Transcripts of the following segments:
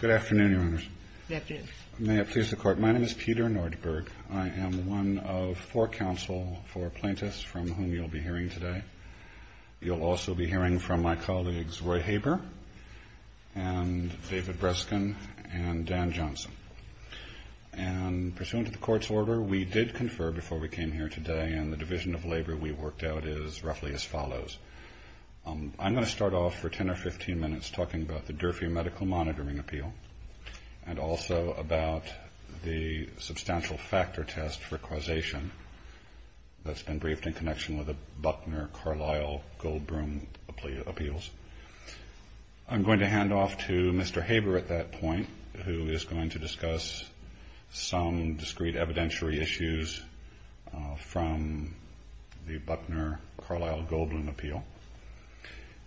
Good afternoon, Your Honors. May it please the Court, my name is Peter Nordberg. I am one of four counsel for plaintiffs from whom you'll be hearing today. You'll also be hearing from my colleagues Roy Haber and David Breskin and Dan Johnson. And pursuant to the Court's order, we did confer before we came here today, and the division of labor we worked out is roughly as follows. I'm going to start off for 10 or 15 minutes talking about the Durfee Medical Monitoring Appeal, and also about the substantial factor test for causation that's been briefed in connection with the Buckner-Carlyle-Goldblum appeals. I'm going to hand off to Mr. Haber at that point, who is going to discuss some discrete evidentiary issues from the Buckner-Carlyle-Goldblum appeal.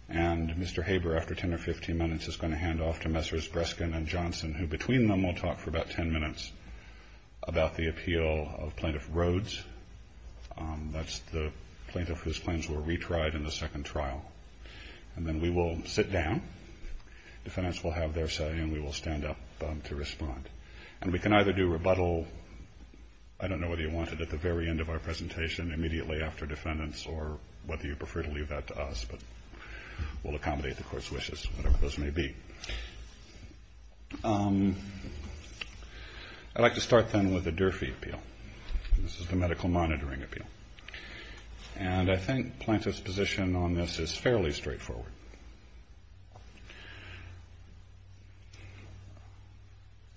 And Mr. Haber, after 10 or 15 minutes, is going to hand off to Messrs. Breskin and Johnson, who, between them, will talk for about 10 minutes about the appeal of Plaintiff Rhodes. That's the plaintiff whose claims were retried in the second trial. And then we will sit down. Defendants will have their say, and we will stand up to respond. And we can either do rebuttal, I don't know whether you want it at the very end of our presentation, immediately after defendants, or whether you prefer to leave that to us. But we'll accommodate the Court's wishes, whatever those may be. I'd like to start, then, with the Durfee appeal. This is the medical monitoring appeal. And I think Plaintiff's position on this is fairly straightforward.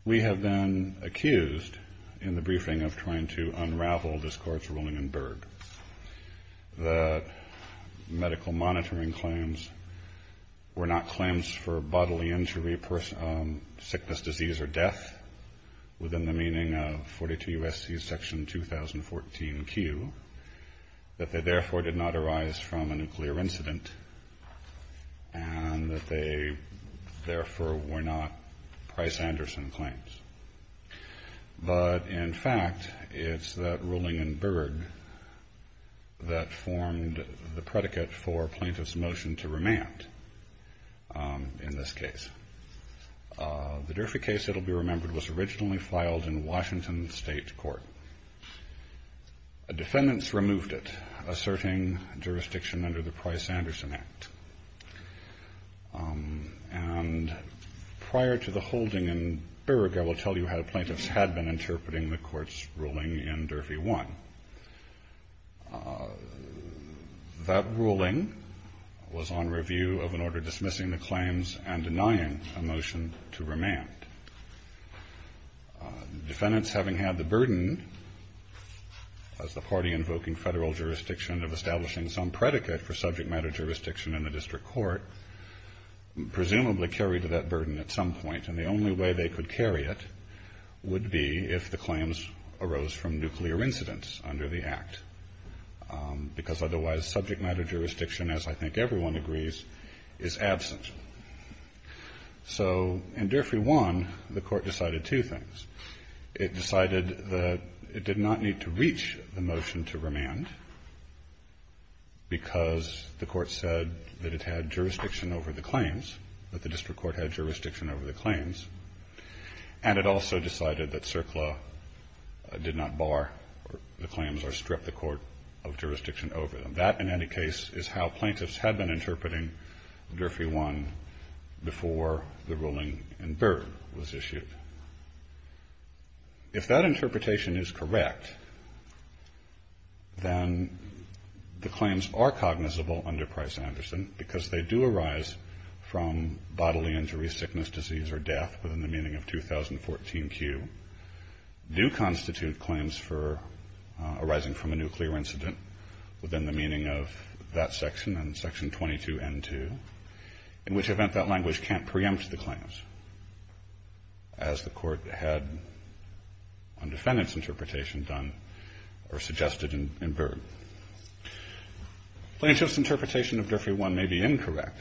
We have been accused, in the briefing, of trying to unravel this Court's ruling in Berg. The medical monitoring claims were not claims for bodily injury, sickness, disease, or death, within the meaning of 42 U.S.C. Section 2014Q, that they, therefore, did not arise from a nuclear incident, and that they, therefore, were not Price-Anderson claims. But, in fact, it's that ruling in Berg that formed the predicate for Plaintiff's motion to remand, in this case. The Durfee case that will be remembered was originally filed in Washington State Court. Defendants removed it, asserting jurisdiction under the Price-Anderson Act. And prior to the holding in Berg, I will tell you how Plaintiffs had been interpreting the Court's ruling in Durfee 1. That ruling was on review of an order dismissing the claims and denying a motion to remand. Defendants, having had the burden, as the party invoking federal jurisdiction, of establishing some predicate for subject matter jurisdiction in the district court, presumably carried that burden at some point. And the only way they could carry it would be if the claims arose from nuclear incidents under the Act, because otherwise subject matter jurisdiction, as I think everyone agrees, is absent. So, in Durfee 1, the Court decided two things. It decided that it did not need to reach the motion to remand, because the Court said that it had jurisdiction over the claims, that the district court had jurisdiction over the claims. And it also decided that CERCLA did not bar the claims or strip the Court of jurisdiction over them. That, in any case, is how Plaintiffs had been interpreting Durfee 1 before the ruling in Berg was issued. If that interpretation is correct, then the claims are cognizable under Price-Anderson, because they do arise from bodily injury, sickness, disease, or death within the meaning of 2014Q, do constitute claims arising from a nuclear incident within the meaning of that section, and section 22N2, in which event that language can't preempt the claims, as the Court had on defendant's interpretation suggested in Berg. Plaintiffs' interpretation of Durfee 1 may be incorrect.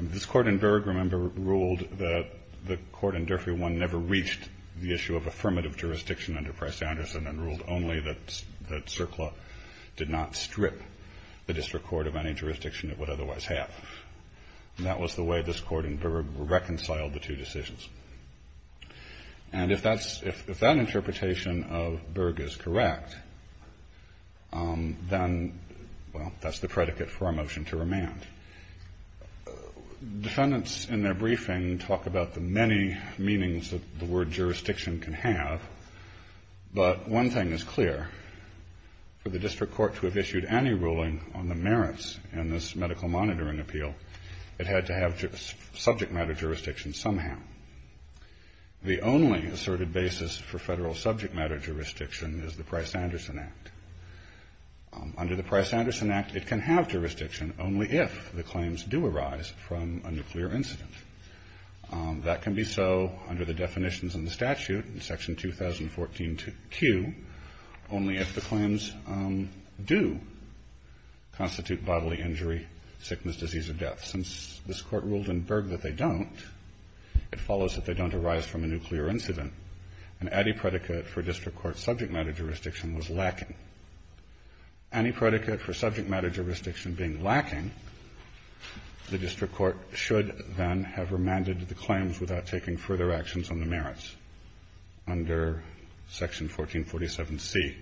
This Court in Berg, remember, ruled that the Court in Durfee 1 never reached the issue of affirmative jurisdiction under Price-Anderson, and ruled only that CERCLA did not strip the district court of any jurisdiction it would otherwise have. And that was the way this Court in Berg reconciled the two decisions. And if that interpretation of Berg is correct, then, well, that's the predicate for our motion to remand. Defendants in their briefing talk about the many meanings that the word jurisdiction can have, but one thing is clear. For the district court to have issued any ruling on the merits in this medical monitoring appeal, it had to have subject matter jurisdiction somehow. The only asserted basis for federal subject matter jurisdiction is the Price-Anderson Act. Under the Price-Anderson Act, it can have jurisdiction only if the claims do arise from a nuclear incident. That can be so under the definitions in the statute, in Section 2014Q, only if the claims do constitute bodily injury, sickness, disease, or death. Since this Court ruled in Berg that they don't, it follows that they don't arise from a nuclear incident, and any predicate for district court subject matter jurisdiction was lacking. Any predicate for subject matter jurisdiction being lacking, the district court should then have remanded the claims without taking further actions on the merits under Section 1447C,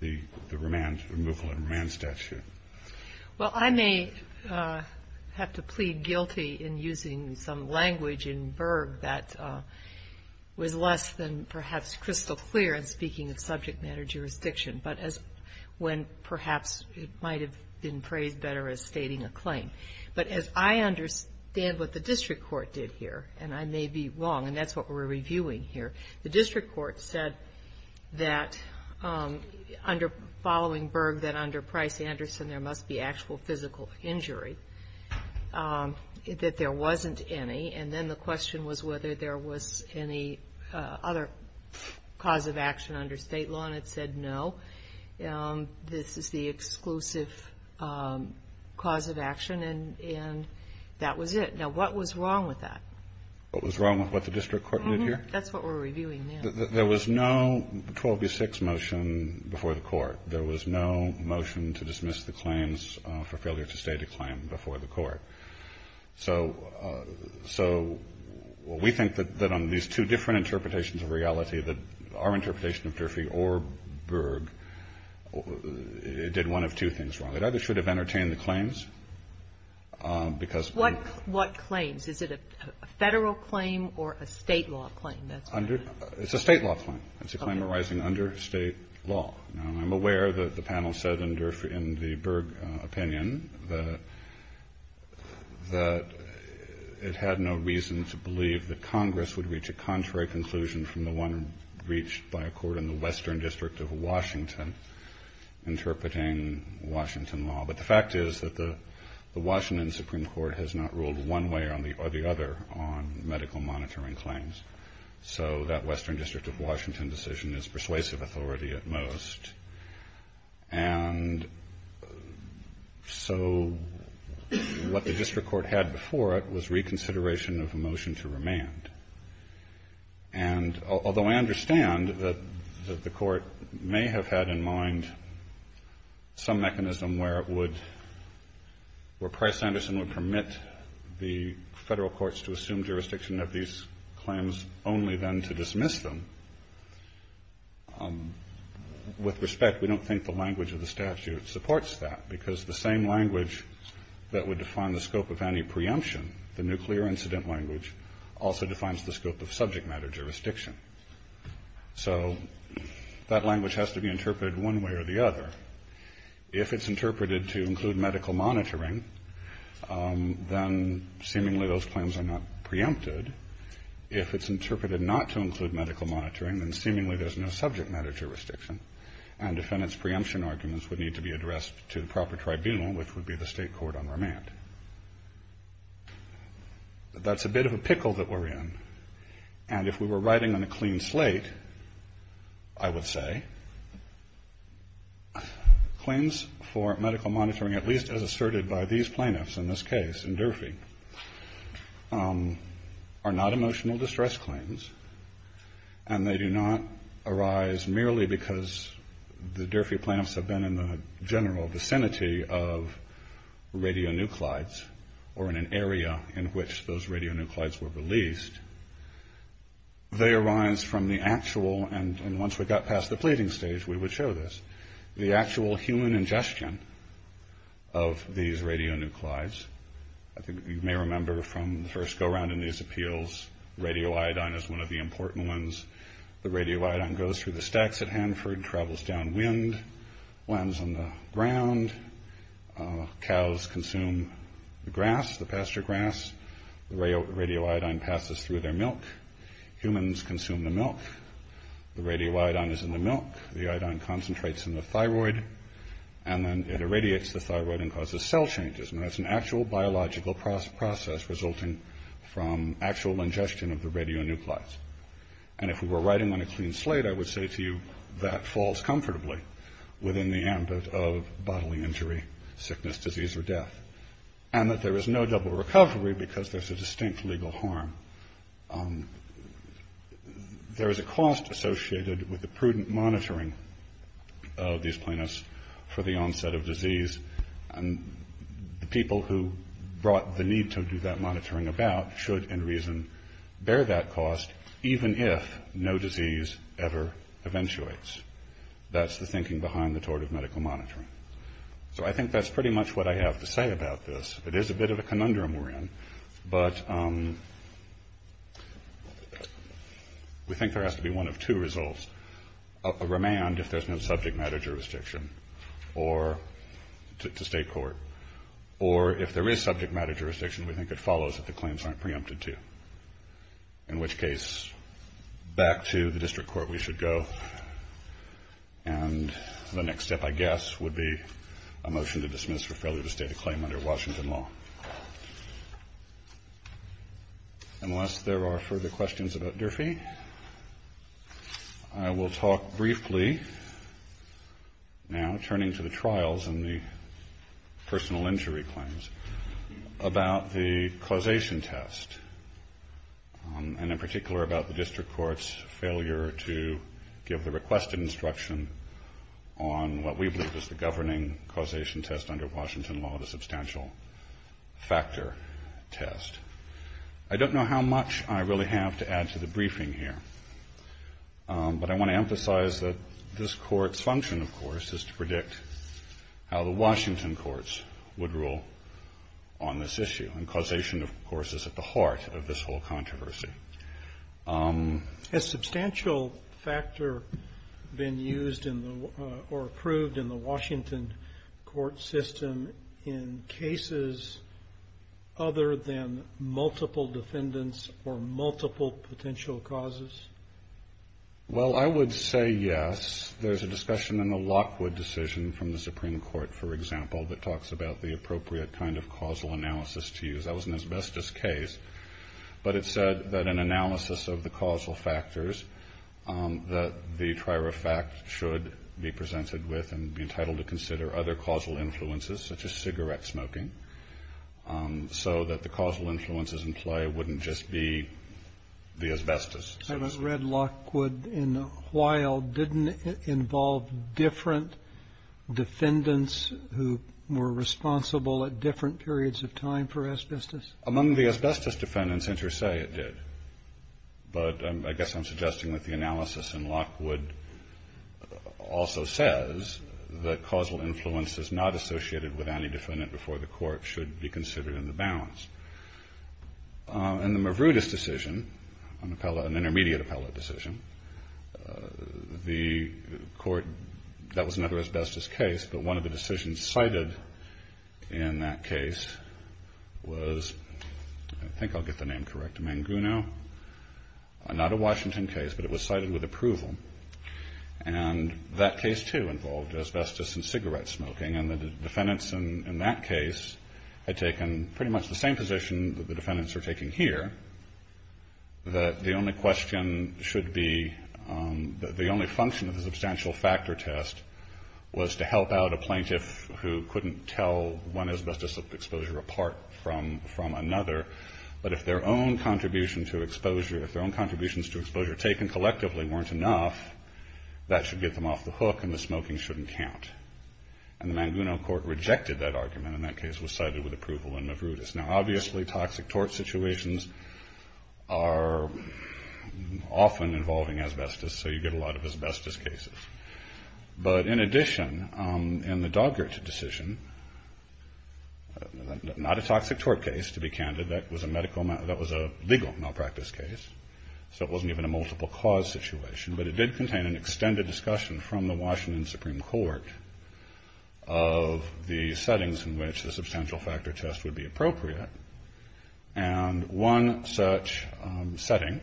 the removal and remand statute. Well, I may have to plead guilty in using some language in Berg that was less than perhaps crystal clear in speaking of subject matter jurisdiction, but as when perhaps it might have been phrased better as stating a claim. But as I understand what the district court did here, and I may be wrong, and that's what we're reviewing here, the district court said that following Berg that under Price-Anderson there must be actual physical injury, that there wasn't any, and then the question was whether there was any other cause of action under state law, and it said no. This is the exclusive cause of action, and that was it. Now, what was wrong with that? What was wrong with what the district court did here? That's what we're reviewing now. There was no 12B6 motion before the Court. There was no motion to dismiss the claims for failure to state a claim before the Court. So we think that on these two different interpretations of reality that our interpretation of Durfee or Berg did one of two things wrong. It either should have entertained the claims, because they're not. What claims? Is it a Federal claim or a state law claim? It's a state law claim. It's a claim arising under state law. Now, I'm aware that the panel said in the Berg opinion that it had no reason to believe that Congress would reach a contrary conclusion from the one reached by a court in the Western District of Washington interpreting Washington law. But the fact is that the Washington Supreme Court has not ruled one way or the other on medical monitoring claims, so that Western District of Washington decision is persuasive authority at most. And so what the district court had before it was reconsideration of a motion to remand. And although I understand that the Court may have had in mind some mechanism where it would, where Price-Anderson would permit the Federal courts to assume jurisdiction of these claims only then to dismiss them, with respect, we don't think the language of the statute supports that, because the same language that would define the scope of any preemption, the nuclear incident language, also defines the scope of subject matter jurisdiction. So that language has to be interpreted one way or the other. If it's interpreted to include medical monitoring, then seemingly those claims are not preempted. If it's interpreted not to include medical monitoring, then seemingly there's no subject matter jurisdiction, and defendant's preemption arguments would need to be addressed to the proper tribunal, which would be the state court on remand. That's a bit of a pickle that we're in. And if we were writing on a clean slate, I would say claims for medical monitoring, at least as asserted by these plaintiffs in this case in Durfee, are not emotional distress claims, and they do not arise merely because the Durfee plaintiffs have been in the general vicinity of radionuclides or in an area in which those radionuclides were released. They arise from the actual, and once we got past the pleading stage, we would show this, the actual human ingestion of these radionuclides. I think you may remember from the first go-round in these appeals, radioiodine is one of the important ones. The radioiodine goes through the stacks at Hanford, travels downwind, lands on the ground. Cows consume the grass, the pasture grass. The radioiodine passes through their milk. Humans consume the milk. The radioiodine is in the milk. The iodine concentrates in the thyroid, and then it irradiates the thyroid and causes cell changes. And that's an actual biological process resulting from actual ingestion of the radionuclides. And if you were writing on a clean slate, I would say to you that falls comfortably within the ambit of bodily injury, sickness, disease, or death, and that there is no double recovery because there's a distinct legal harm. There is a cost associated with the prudent monitoring of these plaintiffs for the onset of disease, and the people who brought the need to do that monitoring about should, in reason, bear that cost, even if no disease ever eventuates. That's the thinking behind the tort of medical monitoring. So I think that's pretty much what I have to say about this. It is a bit of a conundrum we're in, but we think there has to be one of two results. A remand if there's no subject matter jurisdiction to state court, or if there is subject matter jurisdiction, we think it follows that the claims aren't preempted to. In which case, back to the district court we should go, and the next step, I guess, would be a motion to dismiss for failure to state a claim under Washington law. Unless there are further questions about Durfee, I will talk briefly, now turning to the trials and the personal injury claims, about the causation test, and in particular about the district court's failure to give the requested instruction on what we believe is the governing causation test under Washington law, the substantial factor test. I don't know how much I really have to add to the briefing here, but I want to emphasize that this court's function, of course, is to predict how the Washington courts would rule on this issue, and causation, of course, is at the heart of this whole controversy. Has substantial factor been used or approved in the Washington court system in cases other than multiple defendants or multiple potential causes? Well, I would say yes. There's a discussion in the Lockwood decision from the Supreme Court, for example, that talks about the appropriate kind of causal analysis to use. That was an asbestos case. But it said that an analysis of the causal factors that the trier of fact should be presented with and be entitled to consider other causal influences, such as cigarette smoking, so that the causal influences implied wouldn't just be the asbestos. I haven't read Lockwood in a while. Didn't it involve different defendants who were responsible at different periods of time for asbestos? Among the asbestos defendants, inter se, it did. But I guess I'm suggesting that the analysis in Lockwood also says that causal influences not associated with any defendant before the court should be considered in the balance. In the Mavrudis decision, an intermediate appellate decision, the court, that was never an asbestos case, but one of the decisions cited in that case was, I think I'll get the name correct, Manguno. Not a Washington case, but it was cited with approval. And that case, too, involved asbestos and cigarette smoking. And the defendants in that case had taken pretty much the same position that the defendants are taking here, that the only function of the substantial factor test was to help out a plaintiff who couldn't tell one asbestos exposure apart from another. But if their own contributions to exposure taken collectively weren't enough, that should get them off the hook and the smoking shouldn't count. And the Manguno court rejected that argument, and that case was cited with approval in the Mavrudis. Now, obviously, toxic tort situations are often involving asbestos, so you get a lot of asbestos cases. But in addition, in the Dogger decision, not a toxic tort case, to be candid. That was a legal malpractice case, so it wasn't even a multiple cause situation. But it did contain an extended discussion from the Washington Supreme Court of the settings in which the substantial factor test would be appropriate. And one such setting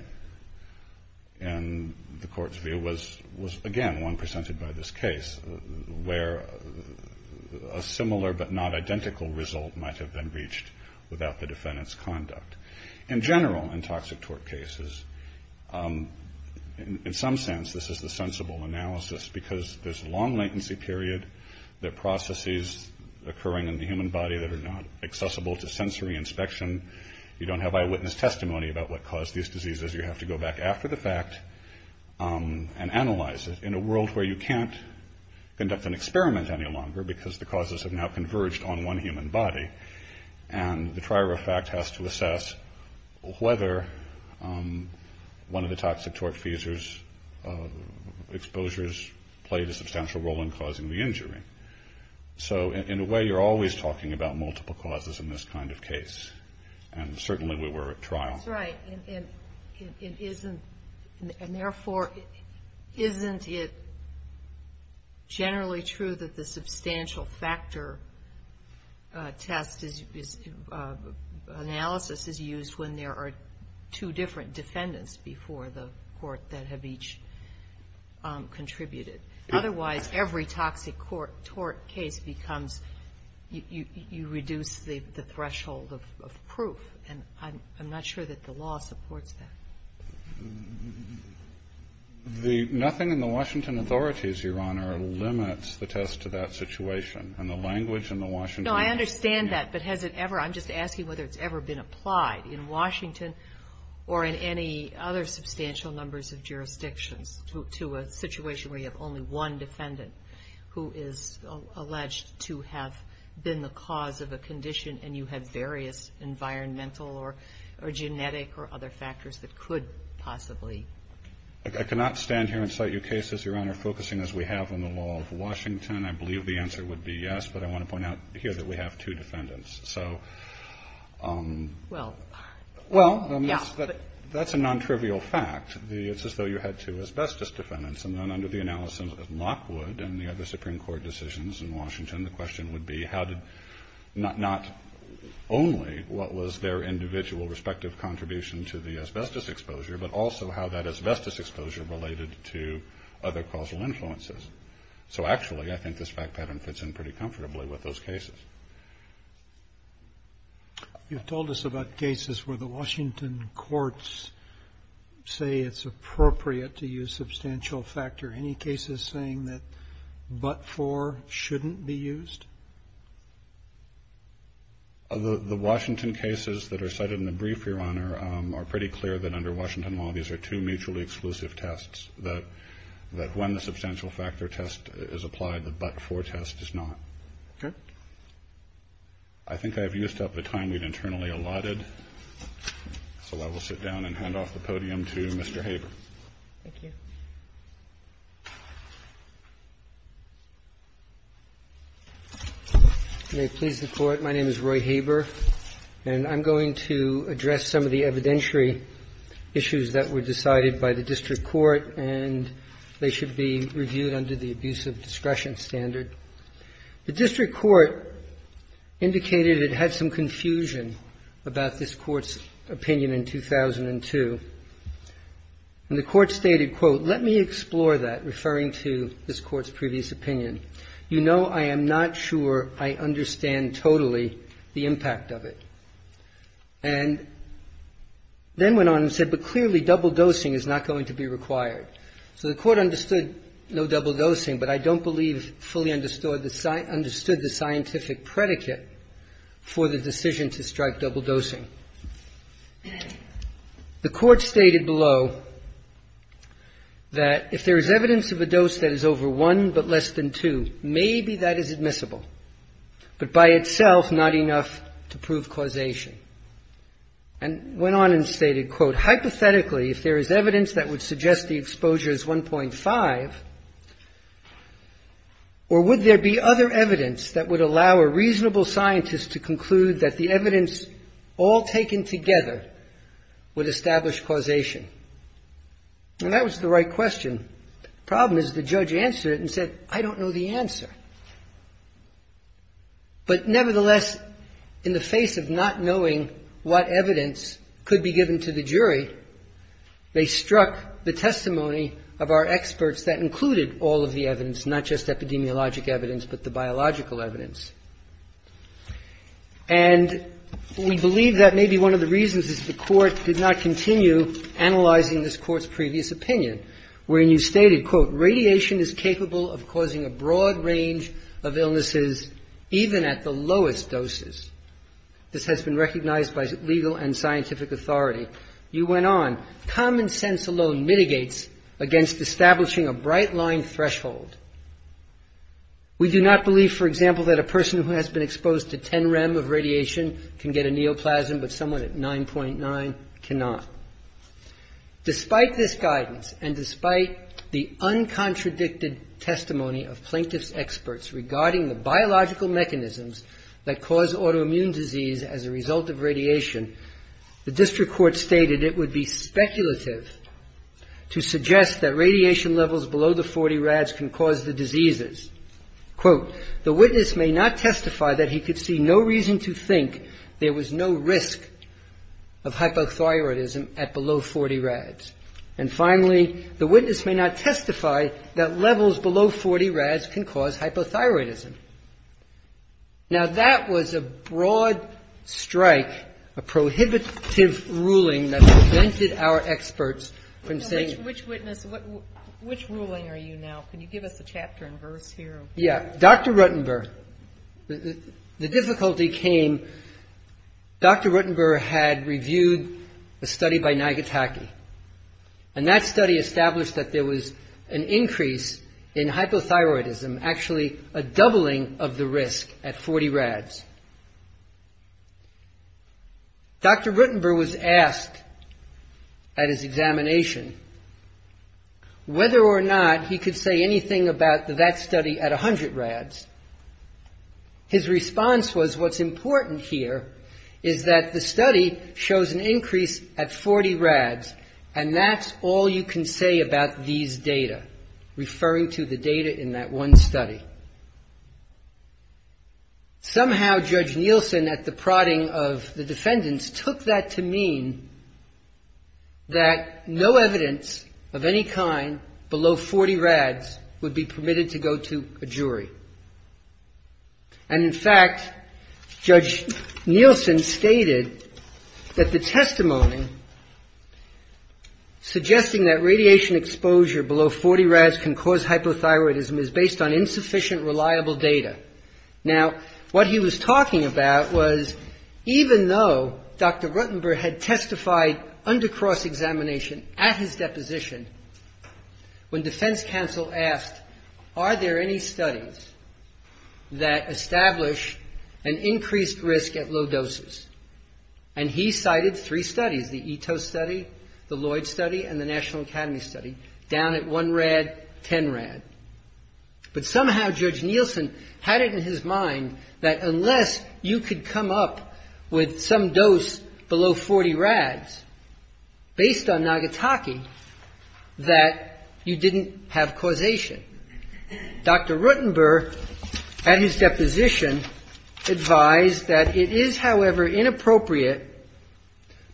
in the court's view was, again, one presented by this case, where a similar but not identical result might have been reached without the defendant's conduct. In general, in toxic tort cases, in some sense, this is the sensible analysis, because there's a long latency period that processes occurring in the human body that are not accessible to sensory inspection. You don't have eyewitness testimony about what caused these diseases. You have to go back after the fact and analyze it in a world where you can't conduct an experiment any longer, because the causes have now converged on one human body. And the trial, in fact, has to assess whether one of the toxic tort seizures exposures played a substantial role in causing the injury. So, in a way, you're always talking about multiple causes in this kind of case. And certainly we were at trial. That's right. And therefore, isn't it generally true that the substantial factor test analysis is used when there are two different defendants before the court that have each contributed? Otherwise, every toxic tort case becomes you reduce the threshold of proof. And I'm not sure that the law supports that. Nothing in the Washington authorities, Your Honor, limits the test to that situation. And the language in the Washington... No, I understand that. But has it ever, I'm just asking whether it's ever been applied in Washington or in any other substantial numbers of jurisdictions to a situation where you have only one defendant who is alleged to have been the cause of a condition and you had various environmental or genetic or other factors that could possibly... I cannot stand here and cite your cases, Your Honor, focusing as we have on the law of Washington. I believe the answer would be yes, but I want to point out here that we have two defendants. So... Well... Well, that's a non-trivial fact. It's as though you had two asbestos defendants. And then under the analysis of Lockwood and the other Supreme Court decisions in Washington, the question would be how did not only what was their individual respective contribution to the asbestos exposure, but also how that asbestos exposure related to other causal influences. So actually, I think this fact pattern fits in pretty comfortably with those cases. You've told us about cases where the Washington courts say it's appropriate to use substantial factor. Any cases saying that but-for shouldn't be used? The Washington cases that are cited in the brief, Your Honor, are pretty clear that under Washington law, these are two mutually exclusive tests, that when the substantial factor test is applied, the but-for test is not. Okay. I think I've used up the time we've internally allotted, so I will sit down and hand off the podium to Mr. Haber. Thank you. May it please the Court, my name is Roy Haber, and I'm going to address some of the evidentiary issues that were decided by the district court, and they should be reviewed under the abuse of discretion standard. The district court indicated it had some confusion about this court's opinion in 2002. And the court stated, quote, let me explore that, referring to this court's previous opinion. You know I am not sure I understand totally the impact of it. And then went on and said, but clearly double dosing is not going to be required. So the court understood no double dosing, but I don't believe fully understood the scientific predicate for the decision to strike double dosing. The court stated below that if there is evidence of a dose that is over one but less than two, maybe that is admissible. But by itself not enough to prove causation. And went on and stated, quote, hypothetically if there is evidence that would suggest the exposure is 1.5, or would there be other evidence that would allow a reasonable scientist to conclude that the evidence all taken together would establish causation? And that was the right question. The problem is the judge answered it and said, I don't know the answer. But nevertheless, in the face of not knowing what evidence could be given to the jury, they struck the testimony of our experts that included all of the evidence, not just epidemiologic evidence, but the biological evidence. And we believe that maybe one of the reasons is the court did not continue analyzing this court's previous opinion, where you stated, quote, radiation is capable of causing a broad range of illnesses even at the lowest doses. This has been recognized by legal and scientific authority. You went on, common sense alone mitigates against establishing a bright line threshold. We do not believe, for example, that a person who has been exposed to 10 rem of radiation can get a neoplasm, but someone at 9.9 cannot. Despite this guidance, and despite the uncontradicted testimony of plaintiff's experts regarding the biological mechanisms that cause autoimmune disease as a result of radiation, the district court stated it would be speculative to suggest that radiation levels below the 40 rads can cause the diseases. Quote, the witness may not testify that he could see no reason to think there was no risk of hypothyroidism at below 40 rads. And finally, the witness may not testify that levels below 40 rads can cause hypothyroidism. Now that was a broad strike, a prohibitive ruling that prevented our experts from saying... Which witness, which ruling are you now? Can you give us a chapter and verse here? Yeah, Dr. Ruttenberg. The difficulty came, Dr. Ruttenberg had reviewed a study by Nagataki. And that study established that there was an increase in hypothyroidism, actually a doubling of the risk at 40 rads. Dr. Ruttenberg was asked at his examination whether or not he could say anything about that study at 100 rads. His response was, what's important here is that the study shows an increase at 40 rads. And that's all you can say about these data, referring to the data in that one study. Somehow Judge Nielsen at the prodding of the defendants took that to mean that no evidence of any kind below 40 rads would be permitted to go to a jury. And in fact, Judge Nielsen stated that the testimony suggesting that radiation exposure below 40 rads can cause hypothyroidism is based on insufficient reliable data. Now, what he was talking about was, even though Dr. Ruttenberg had testified under cross-examination at his deposition, when defense counsel asked, are there any studies that establish an increased risk at low doses? And he cited three studies, the Ito study, the Lloyd study, and the National Academy study, down at 1 rad, 10 rad. But somehow Judge Nielsen had it in his mind that unless you could come up with some dose below 40 rads, based on Nagasaki, that you didn't have causation. Dr. Ruttenberg, at his deposition, advised that it is, however, inappropriate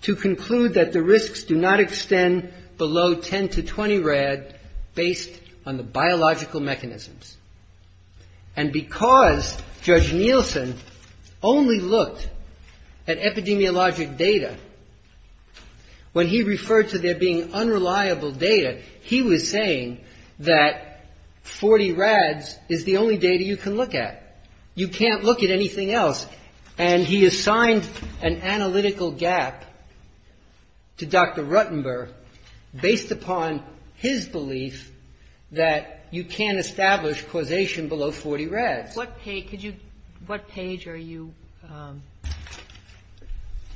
to conclude that the risks do not extend below 10 to 20 rad, based on the biological mechanisms. And because Judge Nielsen only looked at epidemiologic data, when he referred to there being unreliable data, he was saying that 40 rads is the only data you can look at. You can't look at anything else. And he assigned an analytical gap to Dr. Ruttenberg, based upon his belief that you can't establish causation below 40 rads. What page are you...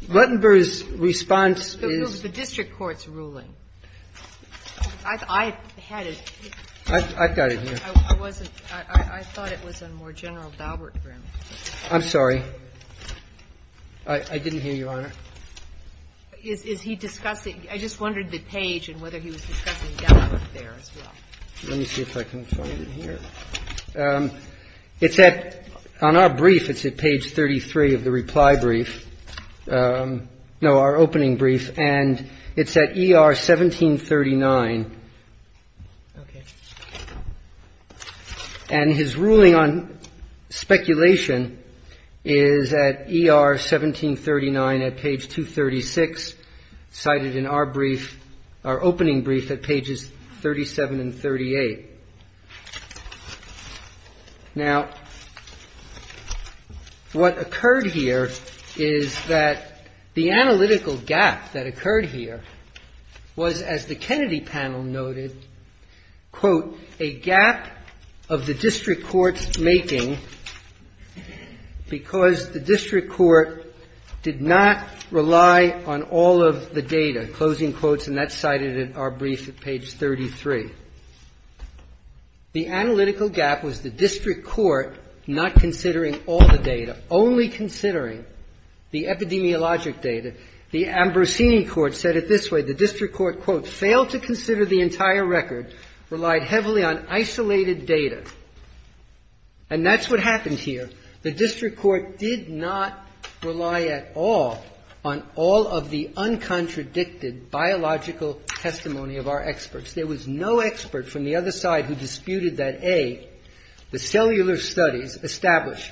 Ruttenberg's response is... The district court's ruling. I've got it here. I wasn't, I thought it was a more general... I'm sorry. I didn't hear you, Your Honor. Is he discussing... I just wondered the page and whether he was discussing... Let me see if I can find it here. It's at... On our brief, it's at page 33 of the reply brief. No, our opening brief. And it's at ER 1739. Okay. And his ruling on speculation is at ER 1739 at page 236, cited in our brief, our opening brief at pages 37 and 38. Now, what occurred here is that the analytical gap that occurred here was, as the Kennedy panel noted, quote, a gap of the district court's making because the district court did not rely on all of the data. Closing quotes, and that's cited in our brief at page 33. The analytical gap was the district court not considering all the data, only considering the epidemiologic data. The Ambrosini court said it this way. The district court, quote, failed to consider the entire record, relied heavily on isolated data. And that's what happened here. The district court did not rely at all on all of the uncontradicted biological testimony of our experts. There was no expert from the other side who disputed that, A, the cellular studies established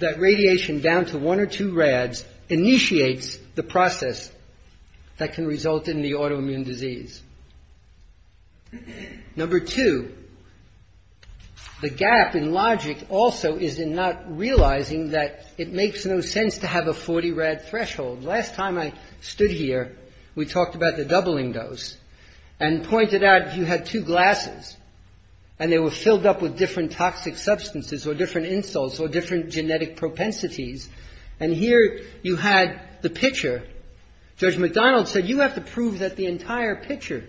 that radiation down to one or two rads initiate the process that can result in the autoimmune disease. Number two, the gap in logic also is in not realizing that it makes no sense to have a 40 rad threshold. Last time I stood here, we talked about the doubling dose and pointed out you had two glasses, and they were filled up with different toxic substances or different insults or different genetic propensities. And here you had the picture. Judge McDonald said you have to prove that the entire picture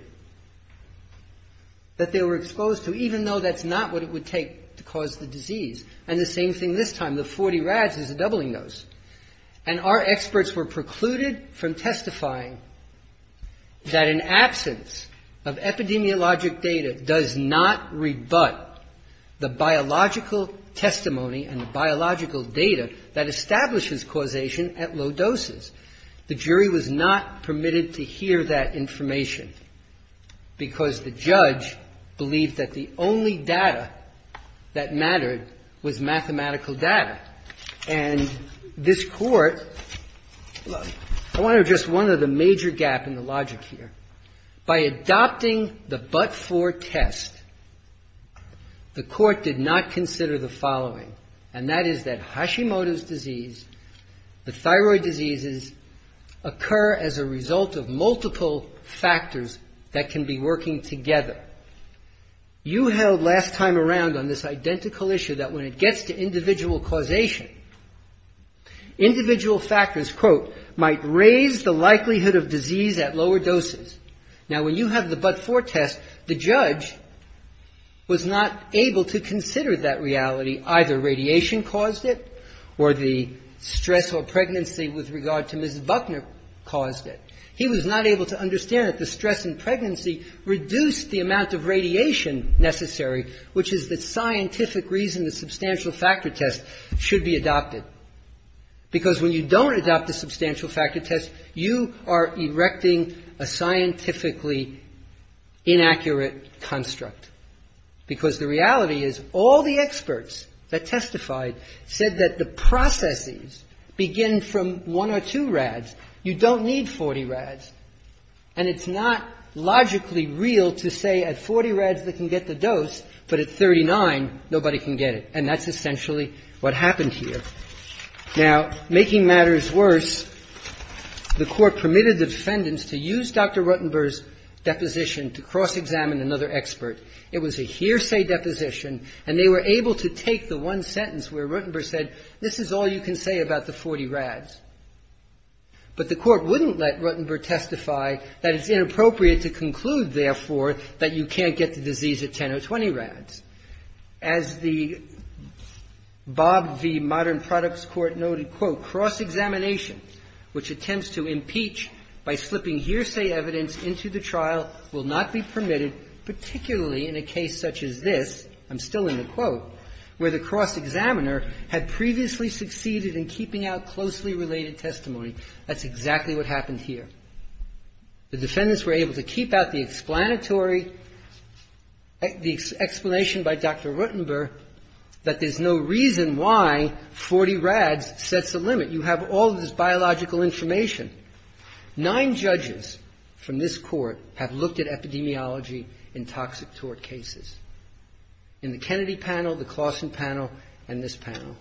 that they were exposed to, even though that's not what it would take to cause the disease. And the same thing this time. The 40 rads is a doubling dose. And our experts were precluded from testifying that an absence of epidemiologic data does not rebut the biological testimony and biological data that establishes causation at low doses. The jury was not permitted to hear that information because the judge believed that the only data that mattered was mathematical data. And this court, I want to address one of the major gaps in the logic here. By adopting the but-for test, the court did not consider the following, and that is that Hashimoto's disease, the thyroid diseases, occur as a result of multiple factors that can be working together. You held last time around on this identical issue that when it gets to individual causation, individual factors, quote, might raise the likelihood of disease at lower doses. Now, when you have the but-for test, the judge was not able to consider that reality. Either radiation caused it or the stress or pregnancy with regard to Ms. Buckner caused it. He was not able to understand that the stress and pregnancy reduced the amount of radiation necessary, which is the scientific reason the substantial factor test should be adopted. Because when you don't adopt a substantial factor test, you are erecting a scientifically inaccurate construct. Because the reality is all the experts that testified said that the processes begin from one or two RADs. You don't need 40 RADs, and it's not logically real to say at 40 RADs they can get the dose, but at 39 nobody can get it, and that's essentially what happened here. Now, making matters worse, the court permitted the defendants to use Dr. Ruttenberg's deposition to cross-examine another expert. It was a hearsay deposition, and they were able to take the one sentence where Ruttenberg said, this is all you can say about the 40 RADs. But the court wouldn't let Ruttenberg testify that it's inappropriate to conclude, therefore, that you can't get the disease at 10 or 20 RADs. As Bob V. Modern Products Court noted, quote, cross-examination, which attempts to impeach by flipping hearsay evidence into the trial, will not be permitted, particularly in a case such as this, I'm still in the quote, where the cross-examiner had previously succeeded in keeping out closely related testimony. That's exactly what happened here. The defendants were able to keep out the explanatory, the explanation by Dr. Ruttenberg, that there's no reason why 40 RADs sets the limit. You have all this biological information. Nine judges from this court have looked at epidemiology in toxic tort cases. In the Kennedy panel, the Claussen panel, and this panel.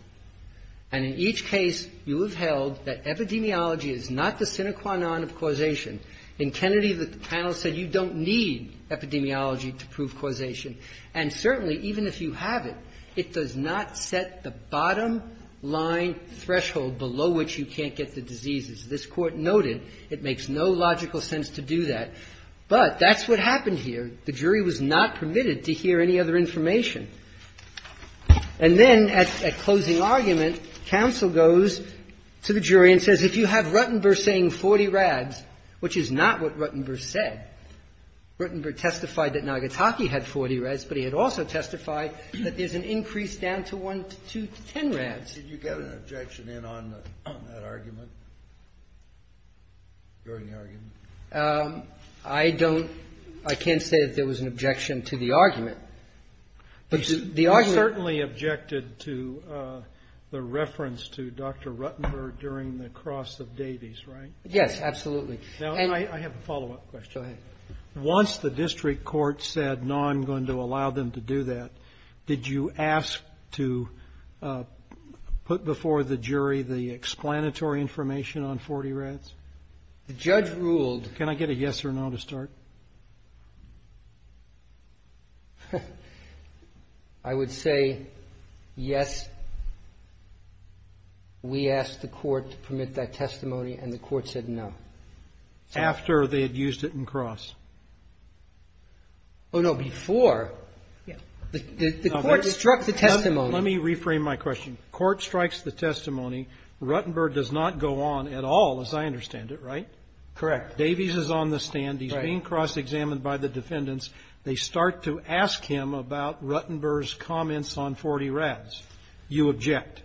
And in each case, you have held that epidemiology is not the sine qua non of causation. In Kennedy, the panel said you don't need epidemiology to prove causation. And certainly, even if you have it, it does not set the bottom line threshold below which you can't get the disease. As this court noted, it makes no logical sense to do that. But that's what happened here. The jury was not permitted to hear any other information. And then, at closing argument, counsel goes to the jury and says, if you have Ruttenberg saying 40 RADs, which is not what Ruttenberg said. Ruttenberg testified that Nagataki had 40 RADs, but he had also testified that there's an increase down to 10 RADs. Did you get an objection in on that argument? During the argument? I don't. I can't say that there was an objection to the argument. I certainly objected to the reference to Dr. Ruttenberg during the cross of Davies, right? Yes, absolutely. And I have a follow-up question. Go ahead. Once the district court said, no, I'm going to allow them to do that, did you ask to put before the jury the explanatory information on 40 RADs? The judge ruled. Can I get a yes or no to start? I would say yes. We asked the court to permit that testimony, and the court said no. After they had used it in cross? Oh, no, before. The court struck the testimony. Let me reframe my question. Court strikes the testimony. The court struck the testimony. Ruttenberg does not go on at all, as I understand it, right? Correct. Davies is on the stand. He's being cross-examined by the defendants. They start to ask him about Ruttenberg's comments on 40 RADs. You object.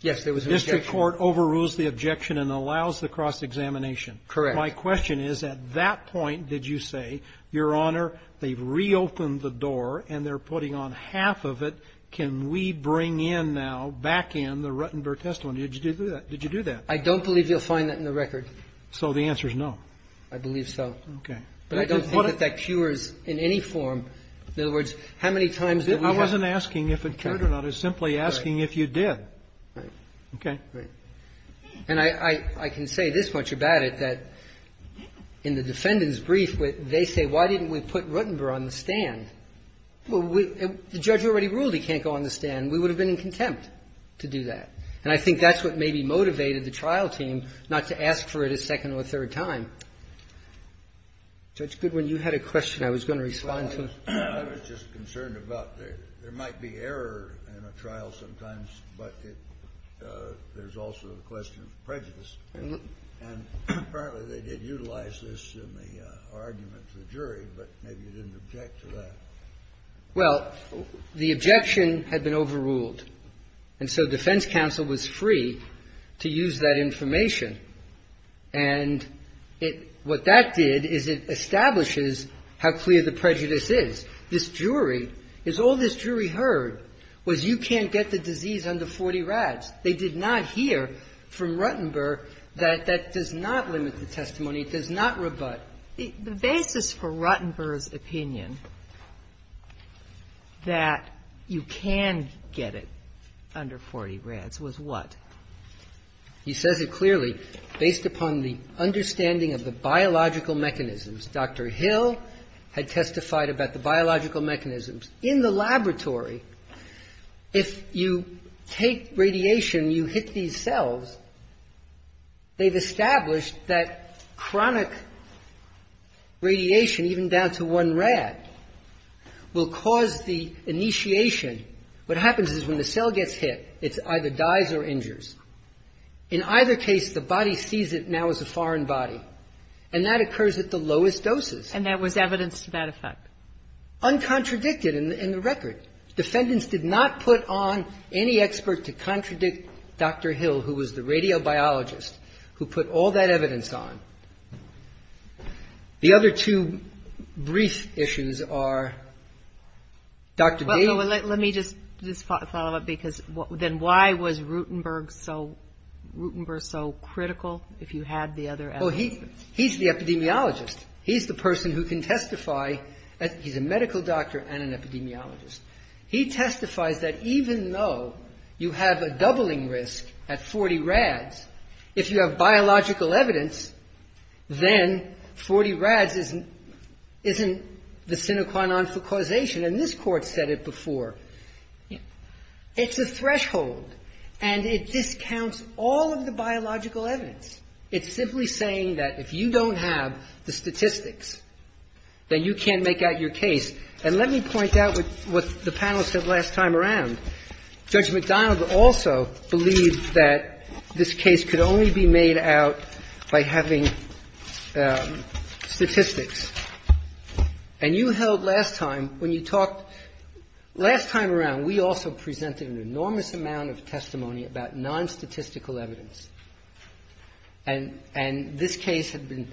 Yes, there was an objection. The district court overrules the objection and allows the cross-examination. Correct. My question is, at that point, did you say, Your Honor, they've reopened the door, and they're putting on half of it. Can we bring in now, back in, the Ruttenberg testimony? Did you do that? I don't believe you'll find that in the record. So the answer is no? I believe so. Okay. But I don't think that that cures in any form. In other words, how many times did we ask? I wasn't asking if it cured or not. I was simply asking if you did. Right. Okay? Right. And I can say this much about it, that in the defendant's brief, they say, Why didn't we put Ruttenberg on the stand? Well, the judge already ruled he can't go on the stand. We would have been in contempt to do that. And I think that's what maybe motivated the trial team not to ask for it a second or a third time. So it's good when you had a question I was going to respond to. I was just concerned about there might be error in a trial sometimes, but there's also the question of prejudice. And apparently they did utilize this in the argument to the jury, but maybe you didn't object to that. Well, the objection had been overruled. And so defense counsel was free to use that information. And what that did is it establishes how clear the prejudice is. This jury, as all this jury heard, was you can't get the disease under 40 rads. They did not hear from Ruttenberg that that does not limit the testimony. It does not rebut. The basis for Ruttenberg's opinion that you can get it under 40 rads was what? He says it clearly. Based upon the understanding of the biological mechanisms, Dr. Hill had testified about the biological mechanisms. In the laboratory, if you take radiation, you hit these cells, they've established that chronic radiation, even down to one rad, will cause the initiation. What happens is when the cell gets hit, it either dies or injures. In either case, the body sees it now as a foreign body. And that occurs at the lowest doses. And that was evidence to that effect. Uncontradicted in the record. Defendants did not put on any expert to contradict Dr. Hill, who was the radiobiologist, who put all that evidence on. The other two brief issues are Dr. Davis. Let me just follow up because then why was Ruttenberg so critical if you had the other evidence? Well, he's the epidemiologist. He's the person who can testify. He's a medical doctor and an epidemiologist. He testifies that even though you have a doubling risk at 40 rads, if you have biological evidence, then 40 rads isn't the sine qua non for causation. And this court said it before. It's a threshold. And it discounts all of the biological evidence. It's simply saying that if you don't have the statistics, then you can't make out your case. And let me point out what the panel said last time around. Judge McDonald also believes that this case could only be made out by having statistics. And you held last time, when you talked, last time around, we also presented an enormous amount of testimony about non-statistical evidence. And this case had been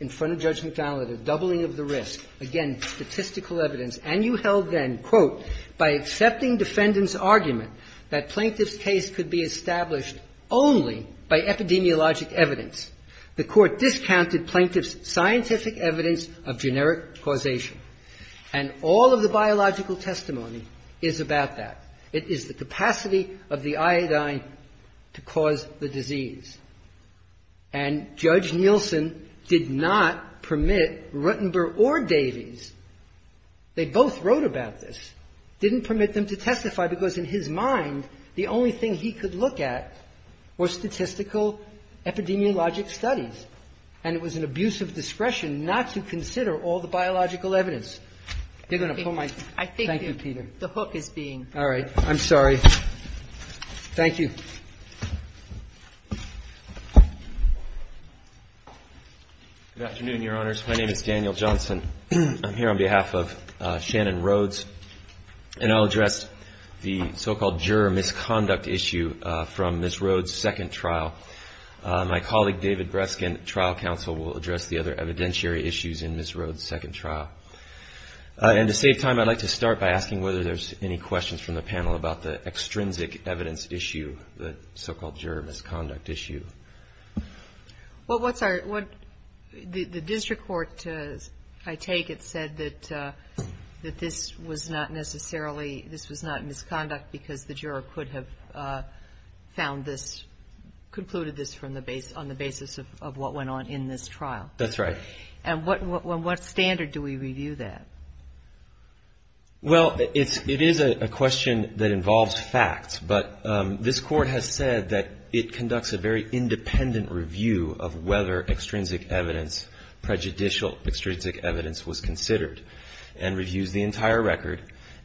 in front of Judge McDonald, a doubling of the risk. Again, statistical evidence. And you held then, quote, by accepting defendant's argument that Plaintiff's case could be established only by epidemiologic evidence, the court discounted Plaintiff's scientific evidence of generic causation. And all of the biological testimony is about that. It is the capacity of the iodine to cause the disease. And Judge Nielsen did not permit Rutenberg or Davies. They both wrote about this. Didn't permit them to testify because in his mind, the only thing he could look at was statistical epidemiologic studies. And it was an abuse of discretion not to consider all the biological evidence. Thank you, Peter. All right. I'm sorry. Thank you. Good afternoon, Your Honors. My name is Daniel Johnson. I'm here on behalf of Shannon Rhodes. And I'll address the so-called juror misconduct issue from Ms. Rhodes' second trial. My colleague, David Breskin, trial counsel, will address the other evidentiary issues in Ms. Rhodes' second trial. And to save time, I'd like to start by asking whether there's any questions from the panel about the extrinsic evidence issue, the so-called juror misconduct issue. Well, the district court, I take it, has said that this was not necessarily, this was not misconduct because the juror could have found this, concluded this on the basis of what went on in this trial. That's right. And what standard do we review that? Well, it is a question that involves facts. But this court has said that it conducts a very independent review of whether extrinsic evidence, prejudicial extrinsic evidence was considered and reviews the entire record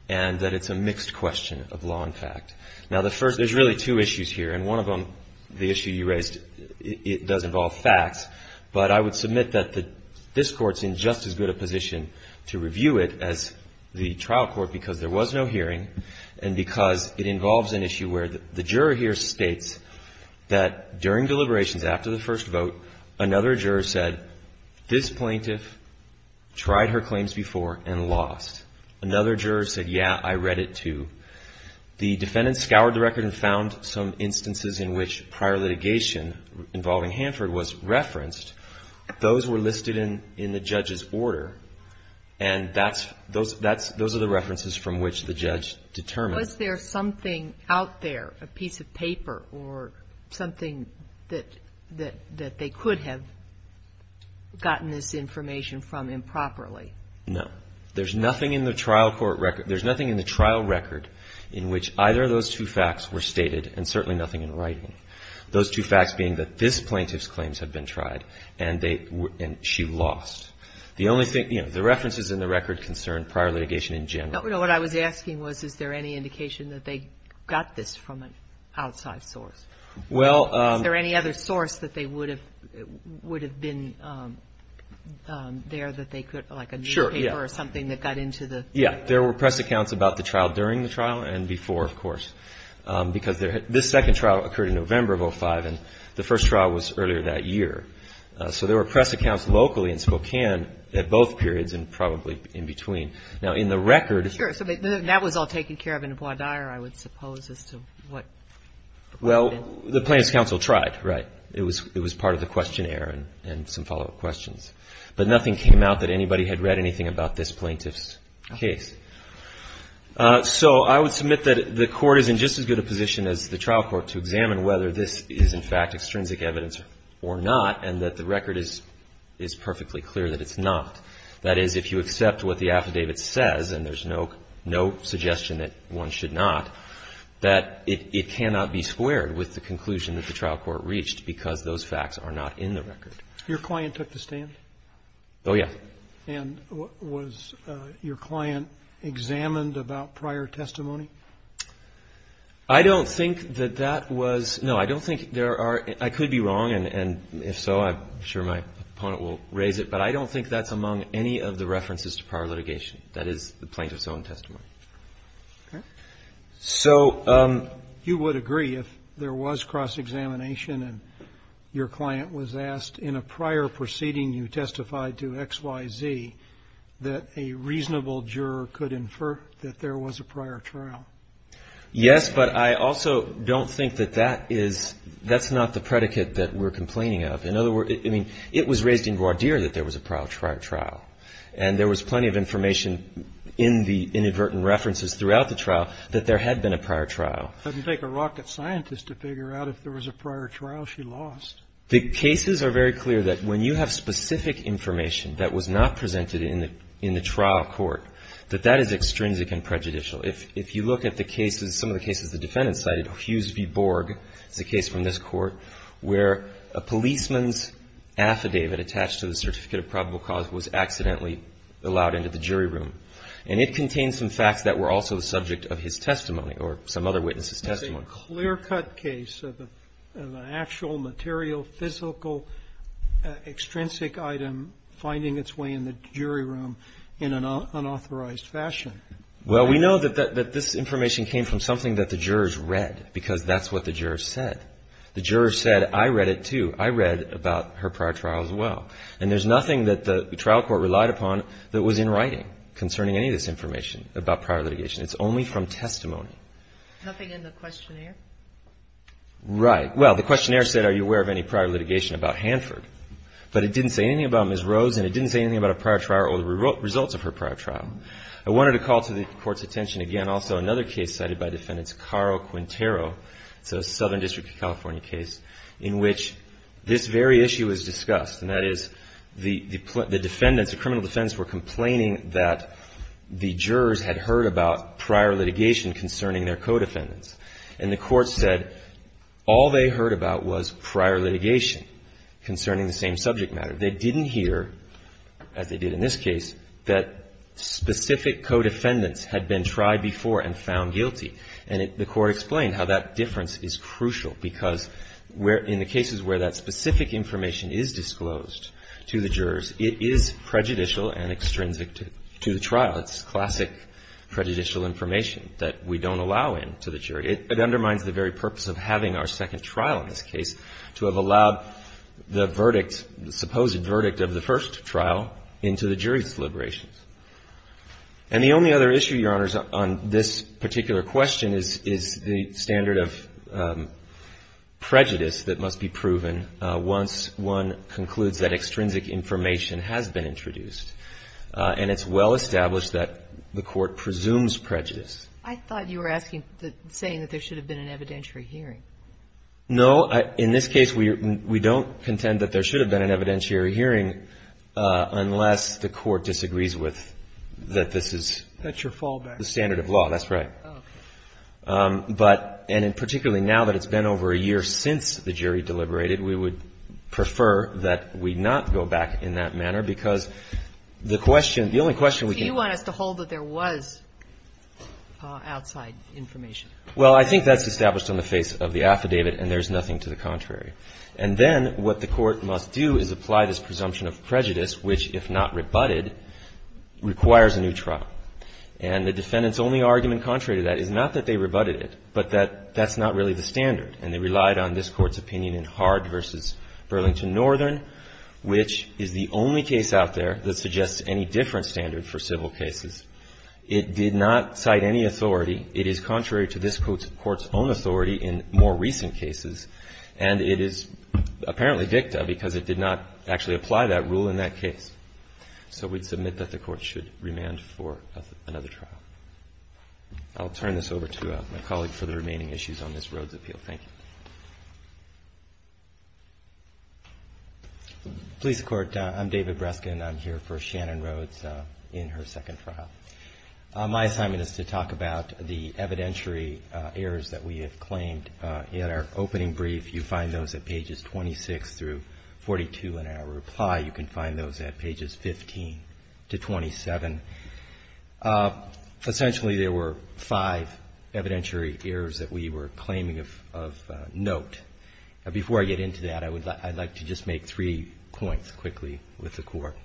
and that it's a mixed question of law and fact. Now, the first, there's really two issues here. And one of them, the issue you raised, it does involve facts. But I would submit that this court's in just as good a position to review it as the trial court because there was no hearing and because it involves an issue where the juror here states that during deliberations after the first vote, another juror said, this plaintiff tried her claims before and lost. Another juror said, yeah, I read it too. The defendant scoured the record and found some instances in which prior litigation involving Hanford was referenced. Those were listed in the judge's order. And those are the references from which the judge determined. Was there something out there, a piece of paper or something that they could have gotten this information from improperly? No. There's nothing in the trial record in which either of those two facts were stated and certainly nothing in writing. Those two facts being that this plaintiff's claims had been tried and she lost. The references in the record concern prior litigation in general. What I was asking was, is there any indication that they got this from an outside source? Is there any other source that they would have been there that they could, like a newspaper or something that got into this? Yeah. There were press accounts about the trial during the trial and before, of course, because this second trial occurred in November of 2005 and the first trial was earlier that year. So there were press accounts locally in Spokane at both periods and probably in between. Now, in the record... Sure. So that was all taken care of in Bois D'Ire, I would suppose, as to what... Well, the Plaintiff's Counsel tried, right. It was part of the questionnaire and some follow-up questions. But nothing came out that anybody had read anything about this plaintiff's case. So I would submit that the Court is in just as good a position as the trial court to examine whether this is, in fact, extrinsic evidence or not and that the record is perfectly clear that it's not. That is, if you accept what the affidavit says and there's no suggestion that one should not, that it cannot be squared with the conclusion that the trial court reached because those facts are not in the record. Your client took the stand? Oh, yes. And was your client examined about prior testimony? I don't think that that was... No, I don't think there are... I could be wrong, and if so, I'm sure my opponent will raise it, but I don't think that's among any of the references to prior litigation. That is the plaintiff's own testimony. Okay. So... You would agree if there was cross-examination and your client was asked in a prior proceeding you testified to, X, Y, Z, that a reasonable juror could infer that there was a prior trial. Yes, but I also don't think that that is... That's not the predicate that we're complaining of. In other words, I mean, it was raised in Gwadir that there was a prior trial, and there was plenty of information in the inadvertent references throughout the trial that there had been a prior trial. It doesn't take a rocket scientist to figure out if there was a prior trial she lost. The cases are very clear that when you have specific information that was not presented in the trial court, that that is extrinsic and prejudicial. If you look at the cases, some of the cases the defendant cited, Hughes v. Borg, the case from this court, where a policeman's affidavit attached to the certificate of probable cause was accidentally allowed into the jury room. And it contains some facts that were also the subject of his testimony or some other witness's testimony. A clear-cut case of an actual, material, physical, extrinsic item finding its way in the jury room in an unauthorized fashion. Well, we know that this information came from something that the jurors read because that's what the jurors said. The jurors said, I read it too. I read about her prior trial as well. And there's nothing that the trial court relied upon that was in writing concerning any of this information about prior litigation. It's only from testimony. Nothing in the questionnaire? Right. Well, the questionnaire said, are you aware of any prior litigation about Hanford? But it didn't say anything about Ms. Rhodes, and it didn't say anything about a prior trial or the results of her prior trial. I wanted to call to this court's attention again also another case cited by defendants, Carl Quintero, the Southern District of California case, in which this very issue is discussed. And that is the defendants, the criminal defendants, were complaining that the jurors had heard about prior litigation concerning their co-defendants. And the court said all they heard about was prior litigation concerning the same subject matter. They didn't hear, as they did in this case, that specific co-defendants had been tried before and found guilty. And the court explained how that difference is crucial because in the cases where that specific information is disclosed to the jurors, it is prejudicial and extrinsic to the trial. It's classic prejudicial information that we don't allow in to the jury. It undermines the very purpose of having our second trial in this case to have allowed the verdict, the supposed verdict of the first trial, into the jury's deliberations. And the only other issue, Your Honors, on this particular question is the standard of prejudice that must be proven once one concludes that extrinsic information has been introduced. And it's well established that the court presumes prejudice. I thought you were saying that there should have been an evidentiary hearing. No. In this case, we don't contend that there should have been an evidentiary hearing unless the court disagrees with that this is the standard of law. That's right. But, and particularly now that it's been over a year since the jury deliberated, we would prefer that we not go back in that manner because the question, the only question we can ask... Do you want us to hold that there was outside information? Well, I think that's established on the face of the affidavit and there's nothing to the contrary. And then what the court must do is apply this presumption of prejudice, which, if not rebutted, requires a new trial. And the defendant's only argument contrary to that is not that they rebutted it, but that that's not really the standard. And they relied on this court's opinion in Hard v. Burlington Northern, which is the only case out there that suggests any different standard for civil cases. It did not cite any authority. It is contrary to this court's own authority in more recent cases. And it is apparently dicta because it did not actually apply that rule in that case. So we submit that the court should remand for another trial. I'll turn this over to my colleague for the remaining issues on this Rhodes appeal. Thank you. Please, Court. I'm David Breskin. I'm here for Shannon Rhodes in her second trial. My assignment is to talk about the evidentiary errors that we have claimed. In our opening brief, you find those at pages 26 through 42 in our reply. You can find those at pages 15 to 27. Potentially, there were five evidentiary errors that we were claiming of note. Before I get into that, I'd like to just make three points quickly with the court.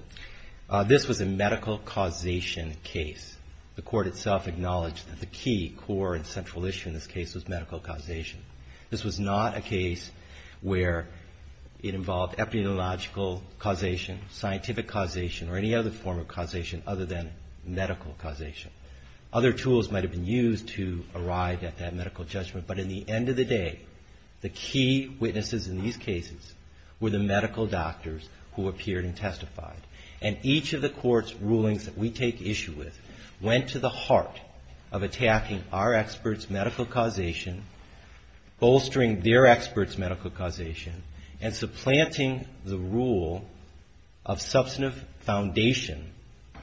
This was a medical causation case. The court itself acknowledged that the key core and central issue in this case was medical causation. This was not a case where it involved epidemiological causation, scientific causation, or any other form of causation other than medical causation. Other tools might have been used to arrive at that medical judgment, but in the end of the day, the key witnesses in these cases were the medical doctors who appeared and testified. And each of the court's rulings that we take issue with went to the heart of attacking our experts' medical causation, bolstering their experts' medical causation, and supplanting the rule of substantive foundation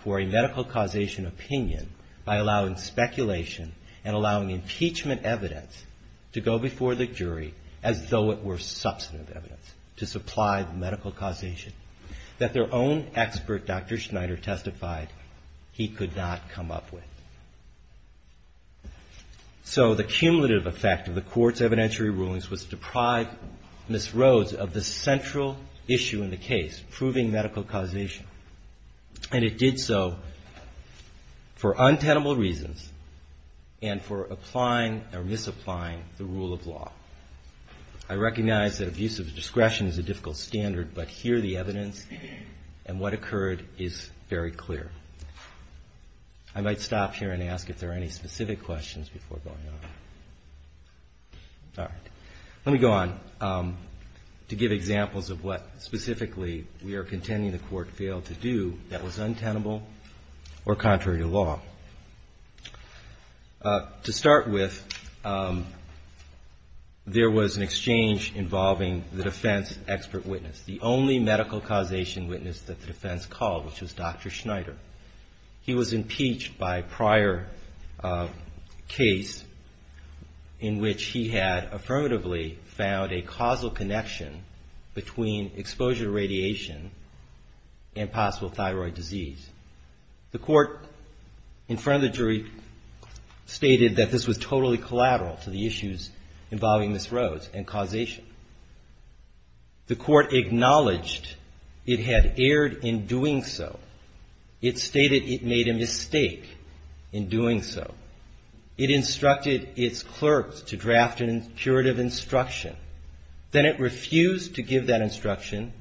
for a medical causation opinion by allowing speculation and allowing impeachment evidence to go before the jury as though it were substantive evidence to supply medical causation that their own expert, Dr. Schneider, testified he could not come up with. So, the cumulative effect of the court's evidentiary rulings was deprived, misrose, of the central issue in the case, proving medical causation. And it did so for untenable reasons and for applying or misapplying the rule of law. I recognize that abuse of discretion is a difficult standard, but here the evidence and what occurred is very clear. I might stop here and ask if there are any specific questions before going on. All right. Let me go on to give examples of what specifically we are contending the court failed to do that was untenable or contrary to law. To start with, there was an exchange involving the defense expert witness, the only medical causation witness that the defense called, which was Dr. Schneider. He was impeached by prior case in which he had affirmatively found a causal connection between exposure to radiation and possible thyroid disease. The court, in front of the jury, stated that this was totally collateral for the issues involving misrose and causation. The court acknowledged it had erred in doing so. It stated it made a mistake in doing so. It instructed its clerks to draft an impuritive instruction. Then it refused to give that instruction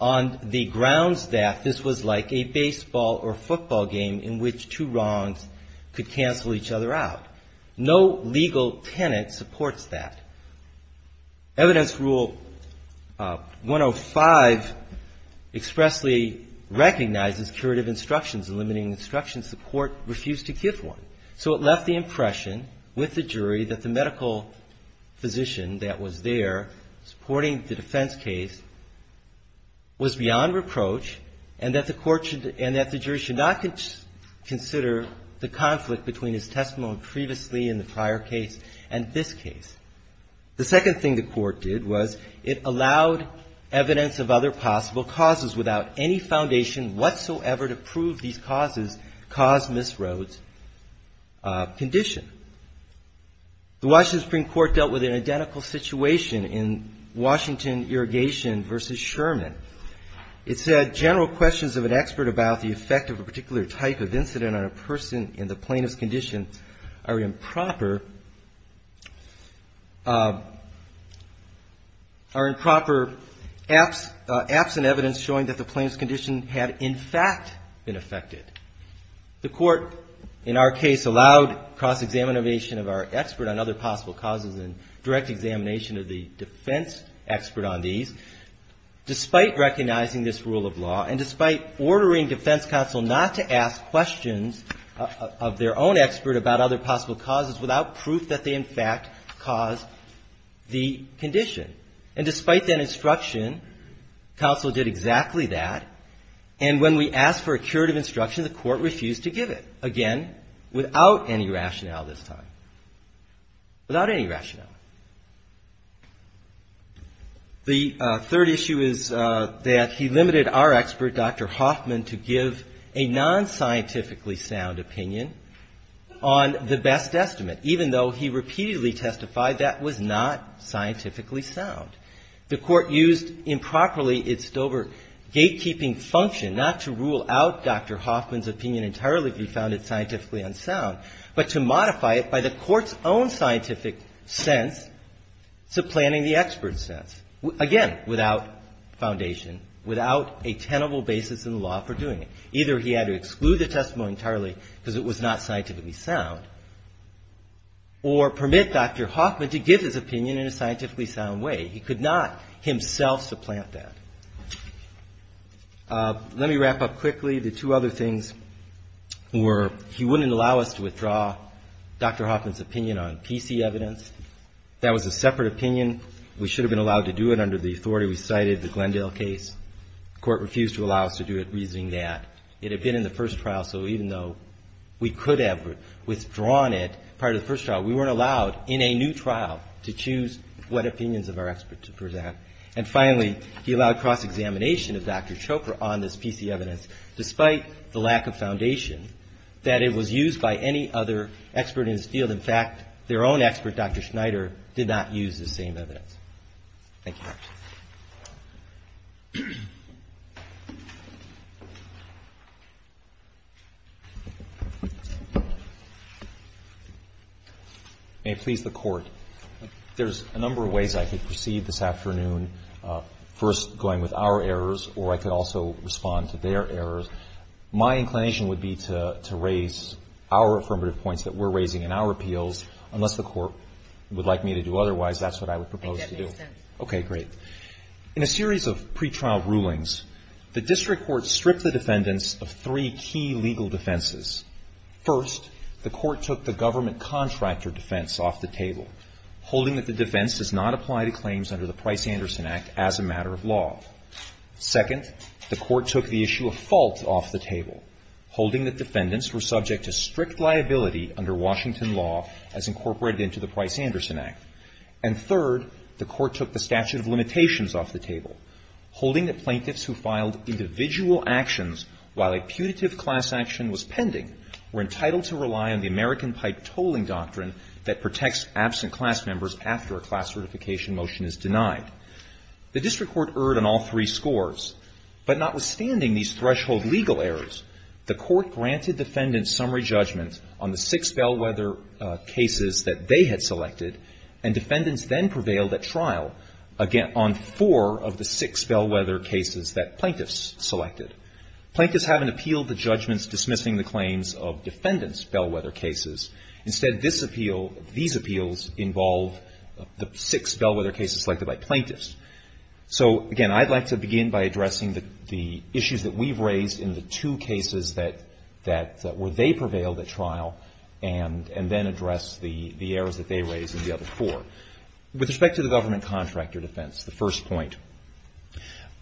on the grounds that this was like a baseball or football game in which two rungs could cancel each other out. No legal tenet supports that. Evidence Rule 105 expressly recognizes impuritive instructions, eliminating instructions the court refused to give one. So it left the impression with the jury that the medical physician that was there supporting the defense case was beyond reproach and that the jury should not consider the conflict between his testimony previously in the prior case and this case. The second thing the court did was it allowed evidence of other possible causes without any foundation whatsoever to prove these causes caused misrose condition. The Washington Supreme Court dealt with an identical situation in Washington Irrigation v. Sherman. It said general questions of an expert about the effect of a particular type of incident on a person in the plaintiff's condition are improper, are improper, absent evidence showing that the plaintiff's condition had in fact been affected. The court, in our case, allowed cross-examination of our expert on other possible causes and direct examination of the defense expert on these despite recognizing this rule of law and despite ordering defense counsel not to ask questions of their own expert about other possible causes without proof that they in fact caused the condition. And despite that instruction, counsel did exactly that. And when we asked for a curative instruction, the court refused to give it. Again, without any rationale this time. Without any rationale. The third issue is that he limited our expert, Dr. Hoffman, to give a non-scientifically sound opinion on the best estimate even though he repeatedly testified that was not scientifically sound. The court used improperly its sober gatekeeping function not to rule out Dr. Hoffman's opinion entirely if we found it scientifically unsound, but to modify it by the court's own scientific sense to planning the expert's sense. Again, without foundation, without a tenable basis in law for doing it. Either he had to exclude the testimony entirely because it was not scientifically sound or permit Dr. Hoffman to give his opinion in a scientifically sound way. He could not himself supplant that. Let me wrap up quickly. The two other things were he wouldn't allow us to withdraw Dr. Hoffman's opinion on PC evidence. That was a separate opinion. We should have been allowed to do it under the authority we cited in the Glendale case. The court refused to allow us to do it using that. It had been in the first trial, so even though we could have withdrawn it prior to the first trial, we weren't allowed in a new trial to choose what opinions of our experts to present. And finally, he allowed cross-examination of Dr. Chopra on this PC evidence despite the lack of foundation that it was used by any other expert in his field. In fact, their own expert, Dr. Schneider, did not use the same evidence. Thank you. And please, the court. There's a number of ways I could proceed this afternoon. First, going with our errors, or I could also respond to their errors. My inclination would be to raise our affirmative points that we're raising in our appeals, unless the court would like me to do otherwise, that's what I would propose to do. Okay, great. In a series of pretrial rulings, the district court stripped the defendants of three key legal defenses. First, the court took the government contractor defense off the table, holding that the defense does not apply to claims under the Price-Anderson Act as a matter of law. Second, the court took the issue of faults off the table, holding that defendants were subject to strict liability under Washington law as incorporated into the Price-Anderson Act. And third, the court took the statute of limitations off the table, holding that plaintiffs who filed individual actions while a putative class action was pending were entitled to rely on the American Pipe Tolling Doctrine that protects absent class members after a class certification motion is denied. The district court erred on all three scores. But notwithstanding these threshold legal errors, the court granted defendants summary judgments on the six bellwether cases that they had selected, and defendants then prevailed at trial on four of the six bellwether cases that plaintiffs selected. Plaintiffs haven't appealed the judgments dismissing the claims of defendants' bellwether cases. Instead, these appeals involve the six bellwether cases selected by plaintiffs. So, again, I'd like to begin by addressing the issues that we've raised in the two cases where they prevailed at trial and then address the errors that they raised in the other four. With respect to the government contractor defense, the first point,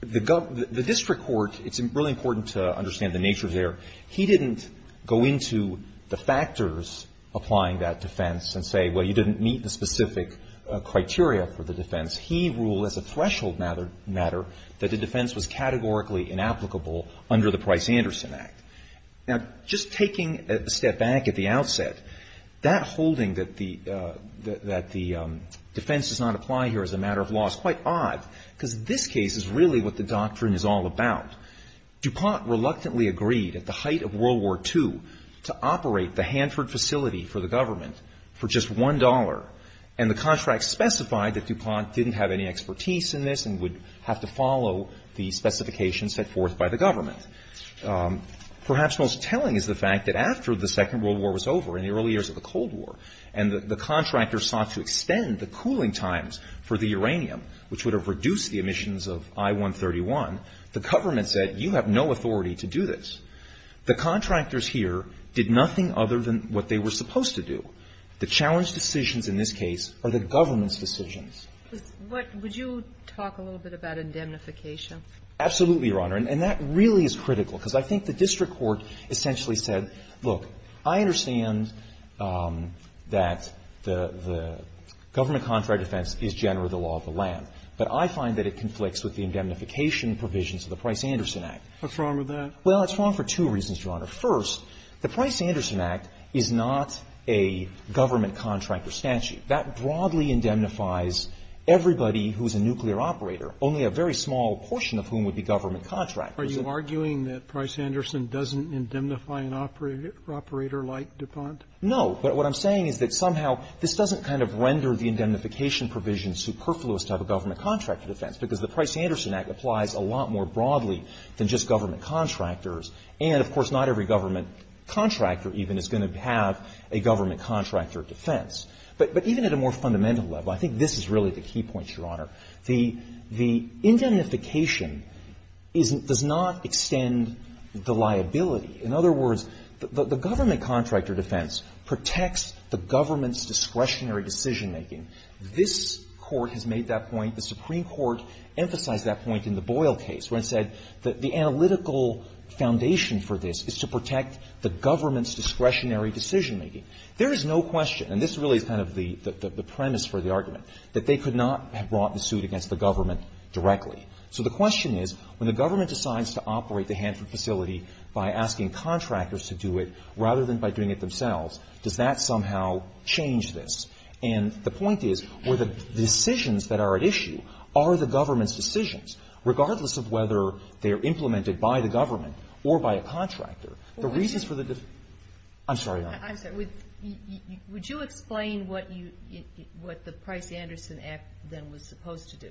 the district court, it's really important to understand the nature there, he didn't go into the factors applying that defense and say, well, you didn't meet the specific criteria for the defense. He ruled as a threshold matter that the defense was categorically inapplicable under the Price-Anderson Act. Now, just taking a step back at the outset, that holding that the defense does not apply here as a matter of law is quite odd because this case is really what the doctrine is all about. DuPont reluctantly agreed at the height of World War II to operate the Hanford facility for the government for just one dollar, and the contract specified that DuPont didn't have any expertise in this and would have to follow the specifications set forth by the government. Perhaps most telling is the fact that after the Second World War was over, in the early years of the Cold War, and the contractor sought to extend the cooling times for the uranium, which would have reduced the emissions of I-131, the government said, you have no authority to do this. The contractors here did nothing other than what they were supposed to do. The challenge decisions in this case are the government's decisions. Would you talk a little bit about indemnification? Absolutely, Your Honor, and that really is critical because I think the district court essentially said, look, I understand that the government contract defense is generally the law of the land, but I find that it conflicts with the indemnification provisions of the Price-Anderson Act. What's wrong with that? Well, it's wrong for two reasons, Your Honor. First, the Price-Anderson Act is not a government contractor statute. That broadly indemnifies everybody who is a nuclear operator, only a very small portion of whom would be government contractors. Are you arguing that Price-Anderson doesn't indemnify an operator like Detente? No, but what I'm saying is that somehow this doesn't kind of render the indemnification provisions superfluous to have a government contractor defense because the Price-Anderson Act applies a lot more broadly than just government contractors, and of course not every government contractor even is going to have a government contractor defense. But even at a more fundamental level, I think this is really the key point, Your Honor. The indemnification does not extend the liability. In other words, the government contractor defense protects the government's discretionary decision-making. This Court has made that point. The Supreme Court emphasized that point in the Boyle case when it said that the analytical foundation for this is to protect the government's discretionary decision-making. There is no question, and this is really kind of the premise for the argument, that they could not have brought the suit against the government directly. So the question is, when the government decides to operate the Hanford facility by asking contractors to do it rather than by doing it themselves, does that somehow change this? And the point is, the decisions that are at issue are the government's decisions, regardless of whether they are implemented by the government or by a contractor. The reasons for the decision... I'm sorry, Your Honor. Would you explain what the Price-Anderson Act then was supposed to do?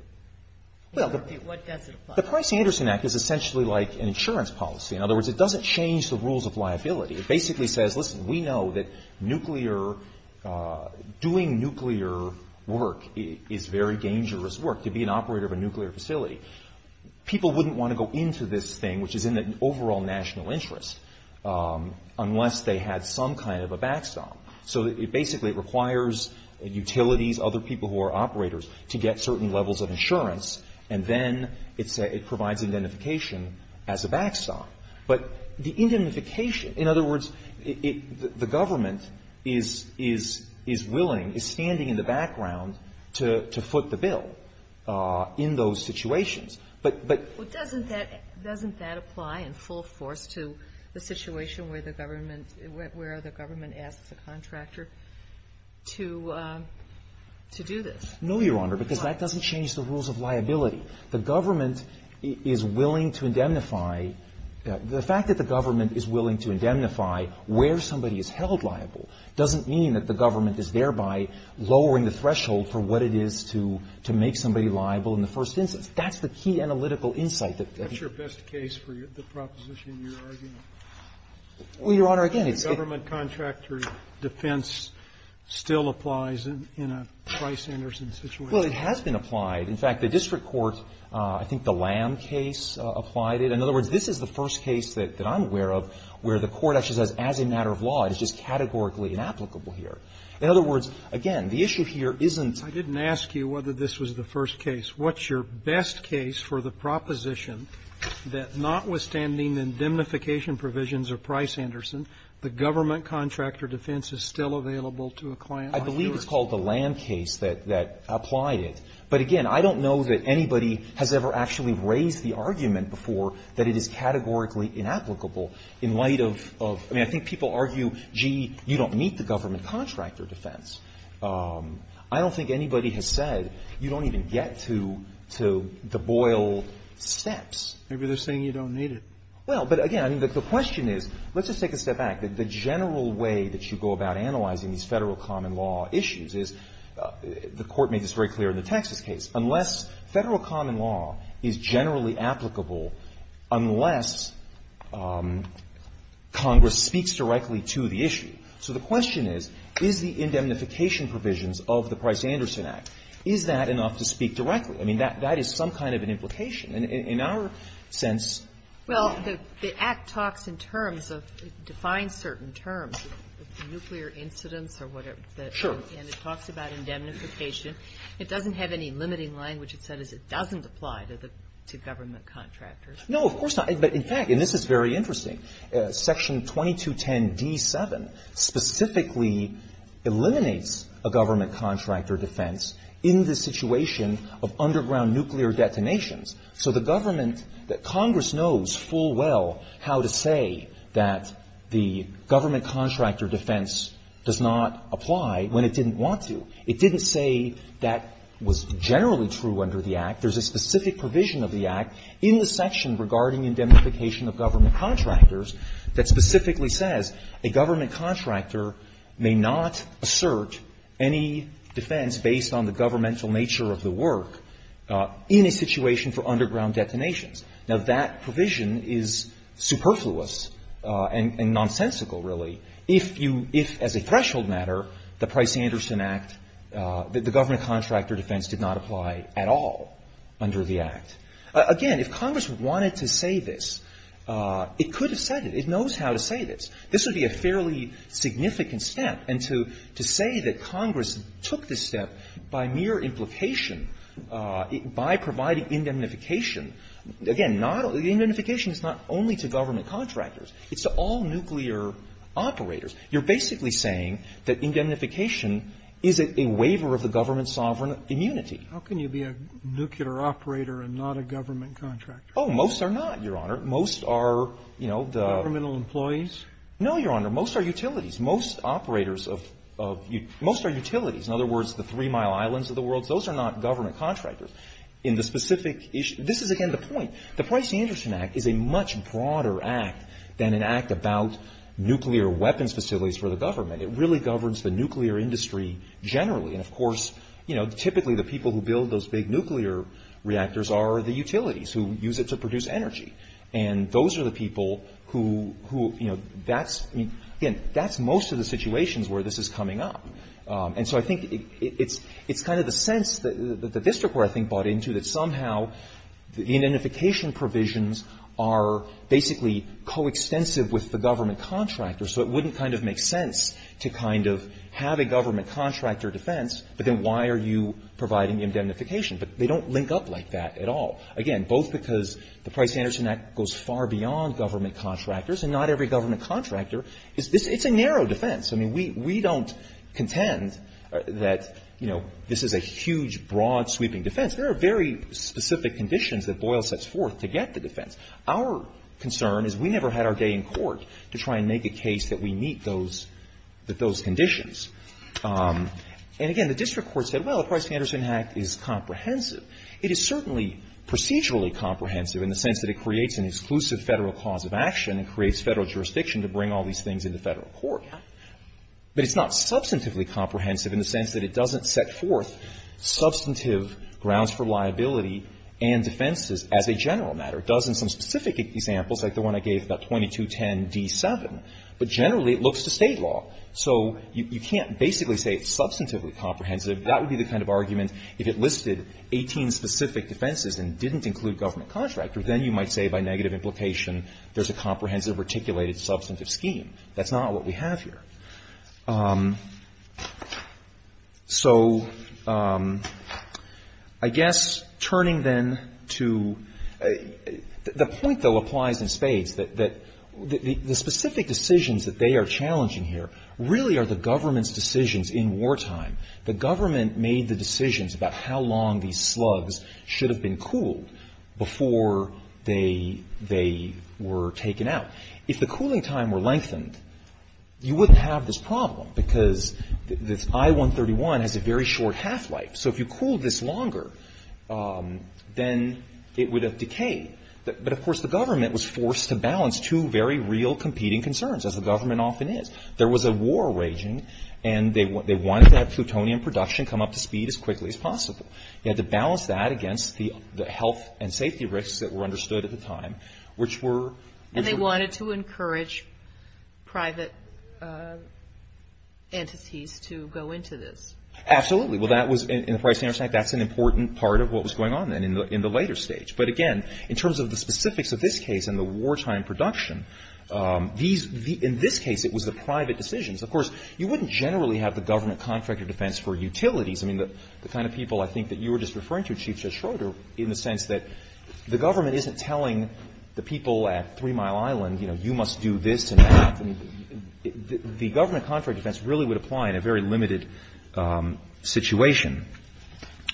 What does it apply to? The Price-Anderson Act is essentially like an insurance policy. In other words, it doesn't change the rules of liability. It basically says, listen, we know that doing nuclear work is very dangerous work, to be an operator of a nuclear facility. People wouldn't want to go into this thing, which is in their overall national interest, unless they had some kind of a backstop. So it basically requires utilities, other people who are operators, to get certain levels of insurance, and then it provides identification as a backstop. But the identification... The government is willing, is standing in the background to foot the bill in those situations. But doesn't that apply in full force to the situation where the government asks a contractor to do this? No, Your Honor, because that doesn't change the rules of liability. The government is willing to indemnify... It doesn't mean that the government is thereby lowering the threshold for what it is to make somebody liable in the first instance. That's the key analytical insight. What's your best case for the proposition you're arguing? Well, Your Honor, again... The government contractor defense still applies in a Price-Anderson situation? Well, it has been applied. In fact, the district courts, I think the Lamb case applied it. In other words, this is the first case that I'm aware of where the court actually says, as a matter of law, this is categorically inapplicable here. In other words, again, the issue here isn't... I didn't ask you whether this was the first case. What's your best case for the proposition that notwithstanding the indemnification provisions of Price-Anderson, the government contractor defense is still available to a client? I believe it's called the Lamb case that applied it. But again, I don't know that anybody has ever actually raised the argument before that it is categorically inapplicable in light of... I mean, I think people argue, gee, you don't need the government contractor defense. I don't think anybody has said you don't even get to the Boyle steps. Maybe they're saying you don't need it. Well, but again, the question is... Let's just take a step back. The general way that you go about analyzing these federal common law issues is... The court made this very clear in the Texas case. Federal common law is generally applicable unless Congress speaks directly to the issue. So the question is, is the indemnification provisions of the Price-Anderson Act, is that enough to speak directly? I mean, that is some kind of an implication. In our sense... Well, the Act talks in terms of... It defines certain terms, nuclear incidents or whatever. Sure. And it talks about indemnification. It doesn't have any limiting language. It says it doesn't apply to government contractors. No, of course not. In fact, and this is very interesting, Section 2210b-7 specifically eliminates a government contractor defense in the situation of underground nuclear detonations. So the government... Congress knows full well how to say that the government contractor defense does not apply when it didn't want to. It didn't say that was generally true under the Act. There's a specific provision of the Act in the section regarding indemnification of government contractors that specifically says a government contractor may not assert any defense based on the governmental nature of the work in a situation for underground detonations. Now, that provision is superfluous and nonsensical, really. If, as a threshold matter, the Price-Anderson Act, the government contractor defense did not apply at all under the Act. Again, if Congress wanted to say this, it could have said it. It knows how to say this. This would be a fairly significant step. And to say that Congress took this step by mere implication, by providing indemnification... Again, indemnification is not only to government contractors. It's to all nuclear operators. You're basically saying that indemnification is a waiver of the government's sovereign immunity. How can you be a nuclear operator and not a government contractor? Oh, most are not, Your Honor. Most are, you know, the... Governmental employees? No, Your Honor. Most are utilities. Most operators of... Most are utilities. In other words, the Three Mile Islands of the world, those are not government contractors. In the specific issue... This is, again, the point. The Price of Interest Act is a much broader act than an act about nuclear weapons facilities for the government. It really governs the nuclear industry generally. And, of course, you know, typically the people who build those big nuclear reactors are the utilities who use it to produce energy. And those are the people who, you know, that's... Again, that's most of the situations where this is coming up. And so I think it's kind of the sense that the district we're, I think, bought into that somehow the indemnification provisions are basically coextensive with the government contractors. So it wouldn't kind of make sense to kind of have a government contractor defense, but then why are you providing indemnification? But they don't link up like that at all. Again, both because the Price-Anderson Act goes far beyond government contractors and not every government contractor. It's a narrow defense. I mean, we don't contend that, you know, this is a huge, broad-sweeping defense. There are very specific conditions that Boyle sets forth to get the defense. Our concern is we never had our day in court to try and make a case that we meet those conditions. And, again, the district court said, well, the Price-Anderson Act is comprehensive. It is certainly procedurally comprehensive in the sense that it creates an exclusive federal cause of action and creates federal jurisdiction to bring all these things into federal court. But it's not substantively comprehensive in the sense that it doesn't set forth substantive grounds for liability and defenses as a general matter. It does include specific examples like the one I gave about 2210d7, but generally it looks to state law. So you can't basically say it's substantively comprehensive. That would be the kind of argument if it listed 18 specific defenses and didn't include government contractors, then you might say by negative implication there's a comprehensive, articulated, substantive scheme. That's not what we have here. So I guess turning then to the point that applies in spades, that the specific decisions that they are challenging here really are the government's decisions in wartime. The government made the decisions about how long these slugs should have been cooled before they were taken out. If the cooling time were lengthened, you wouldn't have this problem because this I-131 has a very short half-life. So if you cooled this longer, then it would have decayed. But of course the government was forced to balance two very real competing concerns, as the government often is. There was a war raging and they wanted that plutonium production come up to speed as quickly as possible. They had to balance that against the health and safety risks that were understood at the time, which were... And they wanted to encourage private entities to go into this. Absolutely. Well, that was, in the private sanctuary, that's an important part of what was going on then in the later stage. But again, in terms of the specifics of this case and the wartime production, in this case it was the private decisions. Of course, you wouldn't generally have the government contractor defense for utilities. The kind of people I think that you were just referring to, Chief Judge Schroeder, in the sense that the government isn't telling the people at Three Mile Island, you know, you must do this and that. The government contractor defense really would apply in a very limited situation.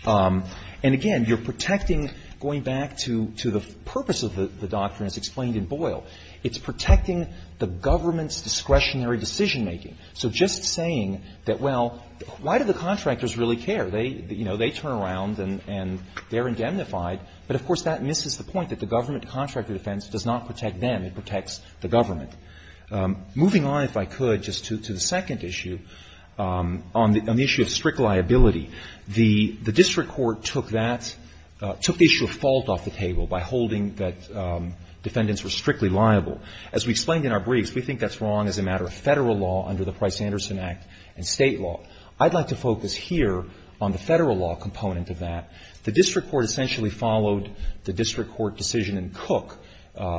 And again, you're protecting, going back to the purpose of the doctrine as explained in Boyle, it's protecting the government's discretionary decision-making. So just saying that, well, why do the contractors really care? You know, they turn around and they're indemnified. But, of course, that misses the point that the government contractor defense does not protect them. It protects the government. Moving on, if I could, just to the second issue on the issue of strict liability. The district court took that, took the issue of fault off the table by holding that defendants were strictly liable. As we explained in our brief, we think that's wrong as a matter of federal law under the Price-Anderson Act and state law. I'd like to focus here on the federal law component of that. The district court essentially followed the district court decision in Cook,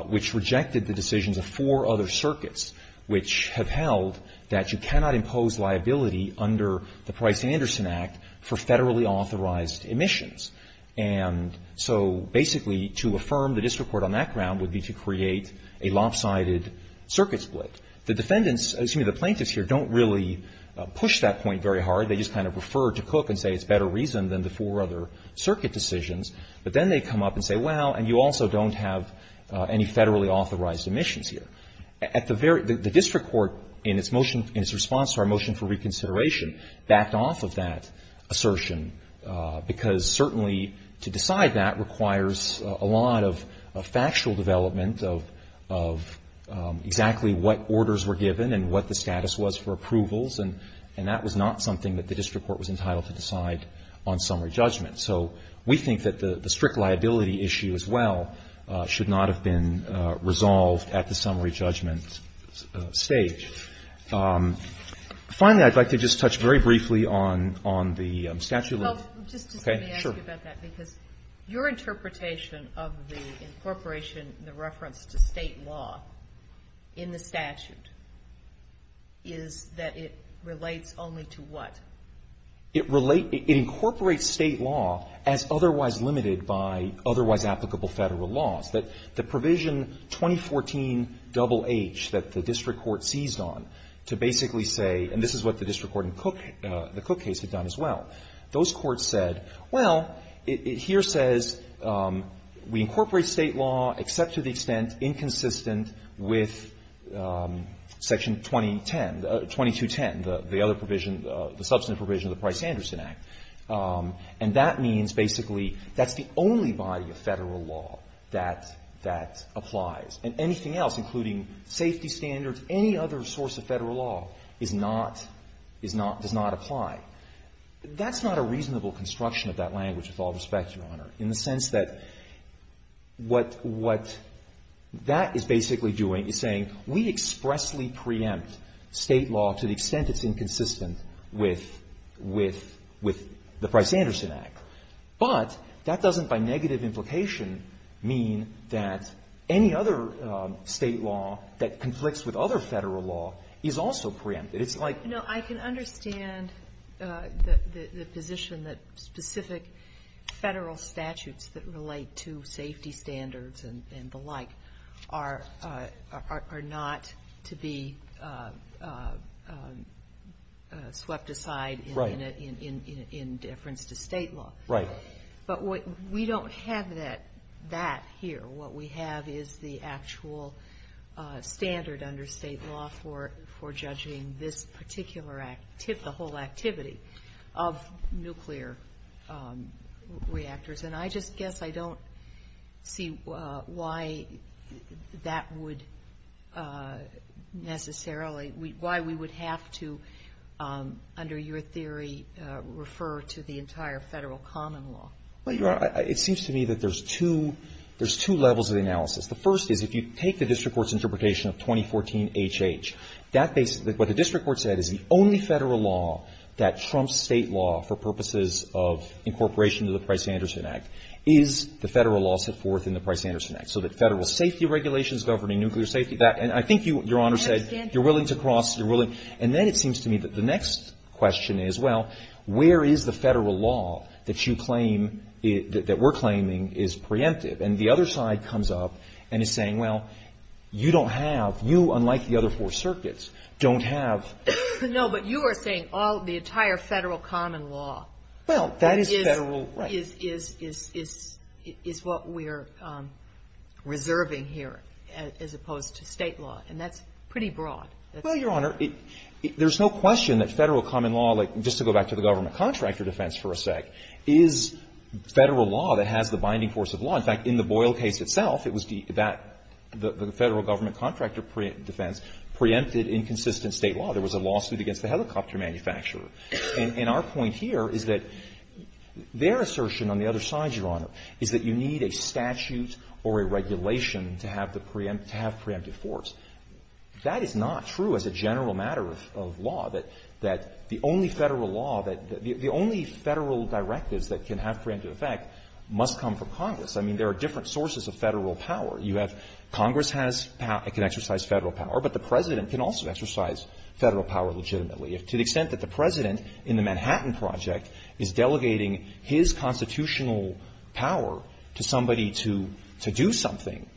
which rejected the decisions of four other circuits, which have held that you cannot impose liability under the Price-Anderson Act for federally authorized emissions. And so basically to affirm the district court on that ground would be to create a lopsided circuit split. The plaintiffs here don't really push that point very hard. They just kind of refer to Cook and say it's better reason than the four other circuit decisions. But then they come up and say, well, and you also don't have any federally authorized emissions here. The district court, in its response to our motion for reconsideration, backed off of that assertion because certainly to decide that requires a lot of factual development of exactly what orders were given and what the status was for approvals. And that was not something that the district court was entitled to decide on summary judgment. So we think that the strict liability issue as well should not have been resolved at the summary judgment stage. Finally, I'd like to just touch very briefly on the statute of limits. Your interpretation of the incorporation and the reference to state law in the statute is that it relates only to what? It incorporates state law as otherwise limited by otherwise applicable federal law. But the provision 2014 double H that the district court seized on to basically say, and this is what the district court in the Cook case had done as well, those courts said, well, it here says we incorporate state law except to the extent inconsistent with section 2010, 2210, the other provision, the substantive provision of the Price-Anderson Act. And that means basically that's the only body of federal law that applies. And anything else, including safety standards, any other source of federal law, is not, does not apply. That's not a reasonable construction of that language with all respect, Your Honor, in the sense that what that is basically doing is saying we expressly preempt state law to the extent it's inconsistent with the Price-Anderson Act. But that doesn't by negative implication mean that any other state law that conflicts with other federal law is also preempted. I can understand the position that specific federal statutes that relate to safety standards and the like are not to be swept aside in deference to state law. Right. But we don't have that here. What we have is the actual standard under state law for judging this particular act, the whole activity of nuclear reactors. And I just guess I don't see why that would necessarily, why we would have to, under your theory, refer to the entire federal common law. Well, Your Honor, it seems to me that there's two levels of analysis. The first is if you take the district court's interpretation of 2014HH, what the district court said is the only federal law that trumps state law for purposes of incorporation to the Price-Anderson Act is the federal law set forth in the Price-Anderson Act, so that federal safety regulations governing nuclear safety, and I think Your Honor said you're willing to cross, you're willing, and then it seems to me that the next question is, well, where is the federal law that you claim, that we're claiming is preemptive? And the other side comes up and is saying, well, you don't have, you, unlike the other four circuits, don't have. No, but you are saying all, the entire federal common law is what we're reserving here as opposed to state law, and that's pretty broad. Well, Your Honor, there's no question that federal common law, like, just to go back to the government contractor defense for a sec, is federal law that has the binding force of law. In fact, in the Boyle case itself, it was the, that, the federal government contractor defense preempted inconsistent state law. There was a lawsuit against the helicopter manufacturer, and our point here is that their assertion on the other side, Your Honor, is that you need a statute or a regulation to have the, to have preemptive force. That is not true as a general matter of law, that the only federal law, that the only federal directives that can have preemptive effect must come from Congress. I mean, there are different sources of federal power. You have, Congress has, can exercise federal power, but the President can also exercise federal power legitimately. To the extent that the President, in the Manhattan Project, is delegating his constitutional power to somebody to do something,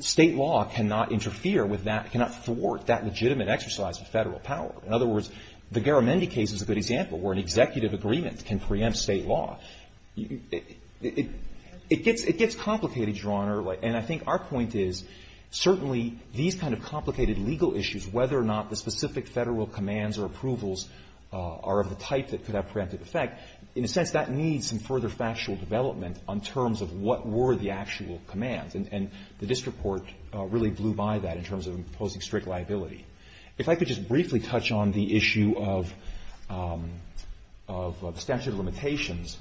state law cannot interfere with that, cannot thwart that legitimate exercise of federal power. In other words, the Garamendi case is a good example where an executive agreement can preempt state law. It gets, it gets complicated, Your Honor, and I think our point is, certainly, these kind of complicated legal issues, whether or not the specific federal commands or approvals are of the type that could have preemptive effect, that, in a sense, that needs some further factual development on terms of what were the actual commands. And this report really blew by that in terms of imposing strict liability. If I could just briefly touch on the issue of extensive limitations,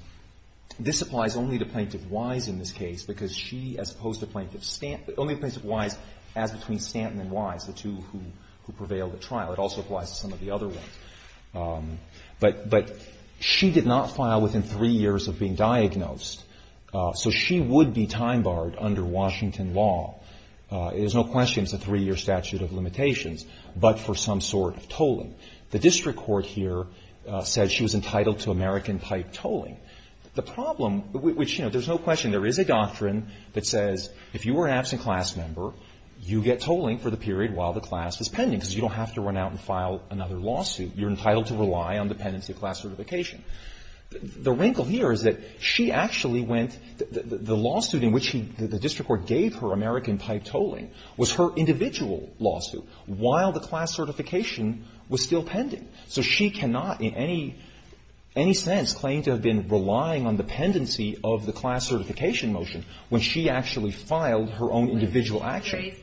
this applies only to Plaintiff Wise in this case because she, as opposed to Plaintiff Stanton, only Plaintiff Wise adds between Stanton and Wise, the two who prevailed at trial. It also applies to some of the other ones. But she did not file within three years of being diagnosed, so she would be time barred under Washington law. There's no question it's a three-year statute of limitations, but for some sort of tolling. The district court here says she was entitled to American-type tolling. The problem, which, you know, there's no question, there is a doctrine that says, if you were an absent class member, you get tolling for the period while the class is pending because you don't have to run out and file another lawsuit. You're entitled to rely on the pendency of class certification. The wrinkle here is that she actually went, the lawsuit in which the district court gave her American-type tolling was her individual lawsuit while the class certification was still pending. So she cannot, in any sense, claim to have been relying on the pendency of the class certification motion when she actually filed her own individual action.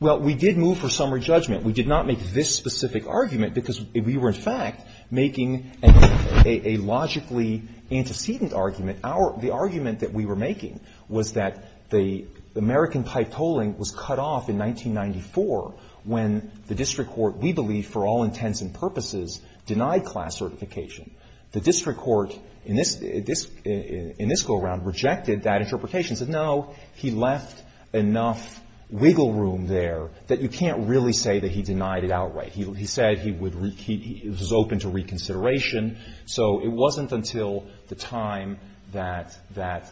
Well, we did move for summary judgment. We did not make this specific argument because we were, in fact, making a logically antecedent argument. The argument that we were making was that the American-type tolling was cut off in 1994 when the district court, we believe, for all intents and purposes, denied class certification. The district court, in this go-around, rejected that interpretation. It said, no, he left enough wiggle room there that you can't really say that he denied it outright. He said he was open to reconsideration. So it wasn't until the time that the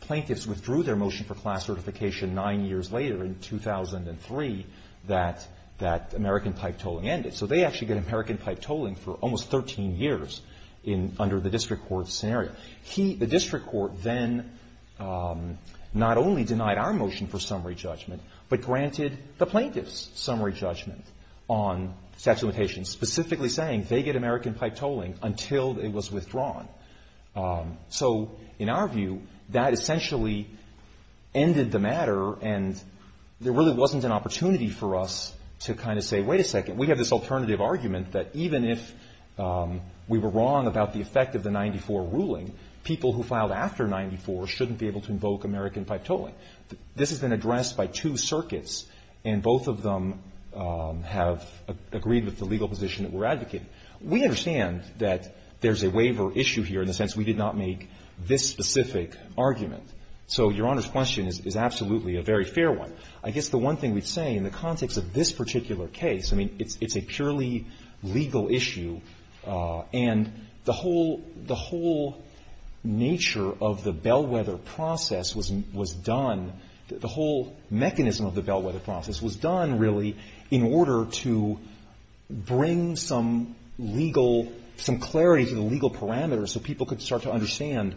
plaintiffs withdrew their motion for class certification nine years later in 2003 that American-type tolling ended. So they actually get American-type tolling for almost 13 years under the district court scenario. The district court then not only denied our motion for summary judgment, but granted the plaintiff's summary judgment on sex limitations, specifically saying they get American-type tolling until it was withdrawn. So, in our view, that essentially ended the matter, and there really wasn't an opportunity for us to kind of say, wait a second, we have this alternative argument that even if we were wrong about the effect of the 94 ruling, people who filed after 94 shouldn't be able to invoke American-type tolling. This has been addressed by two circuits, and both of them have agreed with the legal position that we're advocating. We understand that there's a waiver issue here in the sense we did not make this specific argument. So Your Honor's question is absolutely a very fair one. I guess the one thing we'd say in the context of this particular case, I mean, it's a purely legal issue, and the whole nature of the Bellwether process was done, the whole mechanism of the Bellwether process was done, really, in order to bring some legal, some clarity to the legal parameters so people could start to understand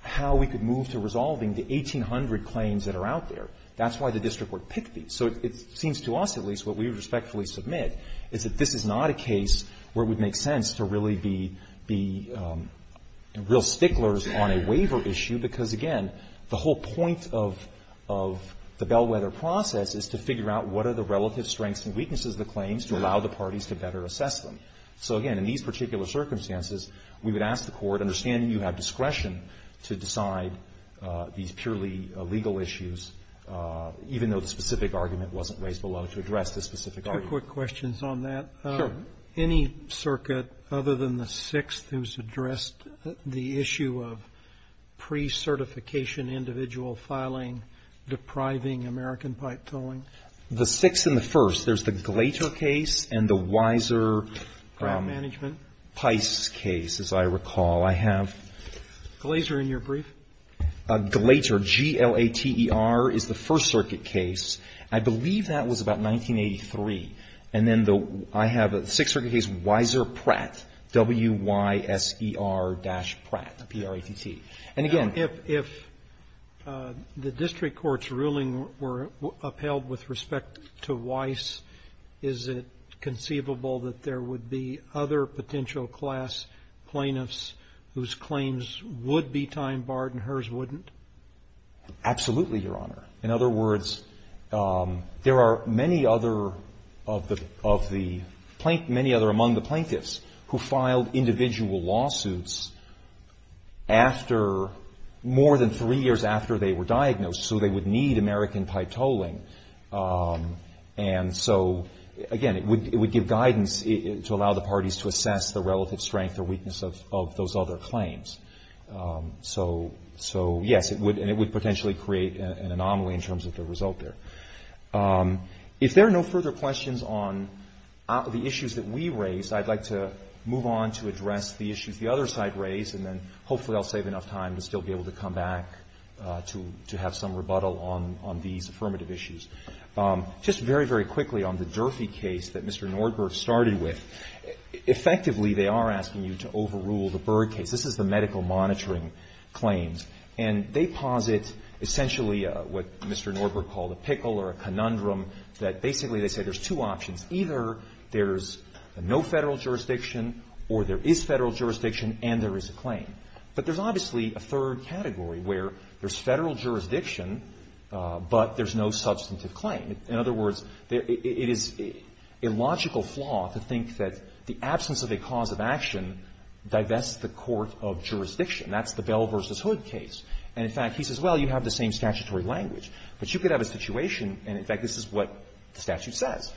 how we could move to resolving the 1,800 claims that are out there. That's why the district court picked these. So it seems to us, at least, what we respectfully submit is that this is not a case where it would make sense to really be real sticklers on a waiver issue because, again, the whole point of the Bellwether process is to figure out what are the relative strengths and weaknesses of the claims to allow the parties to better assess them. So, again, in these particular circumstances, we would ask the court, understanding you have discretion to decide these purely legal issues, even though the specific argument wasn't raised below to address this specific argument. Two quick questions on that. Sure. Any circuit other than the Sixth who's addressed the issue of pre-certification individual filing, depriving American pipe tolling? The Sixth and the First. There's the Glater case and the Weiser Price case, as I recall. Glater in your brief? Glater, G-L-A-T-E-R, is the First Circuit case. I believe that was about 1983. And then I have a Sixth Circuit case, Weiser Pratt, W-Y-S-E-R dash Pratt, P-R-A-T-T. If the district court's ruling were upheld with respect to Weiss, is it conceivable that there would be other potential class plaintiffs whose claims would be time barred and hers wouldn't? Absolutely, Your Honor. In other words, there are many other among the plaintiffs who filed individual lawsuits more than three years after they were diagnosed, so they would need American pipe tolling. And so, again, it would give guidance to allow the parties to assess the relative strength or weakness of those other claims. So, yes, and it would potentially create an anomaly in terms of the result there. If there are no further questions on the issues that we raised, I'd like to move on to address the issues the other side raised, and then hopefully I'll save enough time to still be able to come back to have some rebuttal on these affirmative issues. Just very, very quickly on the Durfee case that Mr. Nordberg started with. Effectively, they are asking you to overrule the Byrd case. This is the medical monitoring claims. And they posit essentially what Mr. Nordberg called a pickle or a conundrum, that basically they say there's two options. Either there's no federal jurisdiction or there is federal jurisdiction and there is a claim. But there's obviously a third category where there's federal jurisdiction, but there's no substantive claim. In other words, it is a logical flaw to think that the absence of a cause of action can divest the court of jurisdiction. That's the Bell v. Hood case. And in fact, he says, well, you have the same statutory language. But you could have a situation, and in fact this is what the statute says.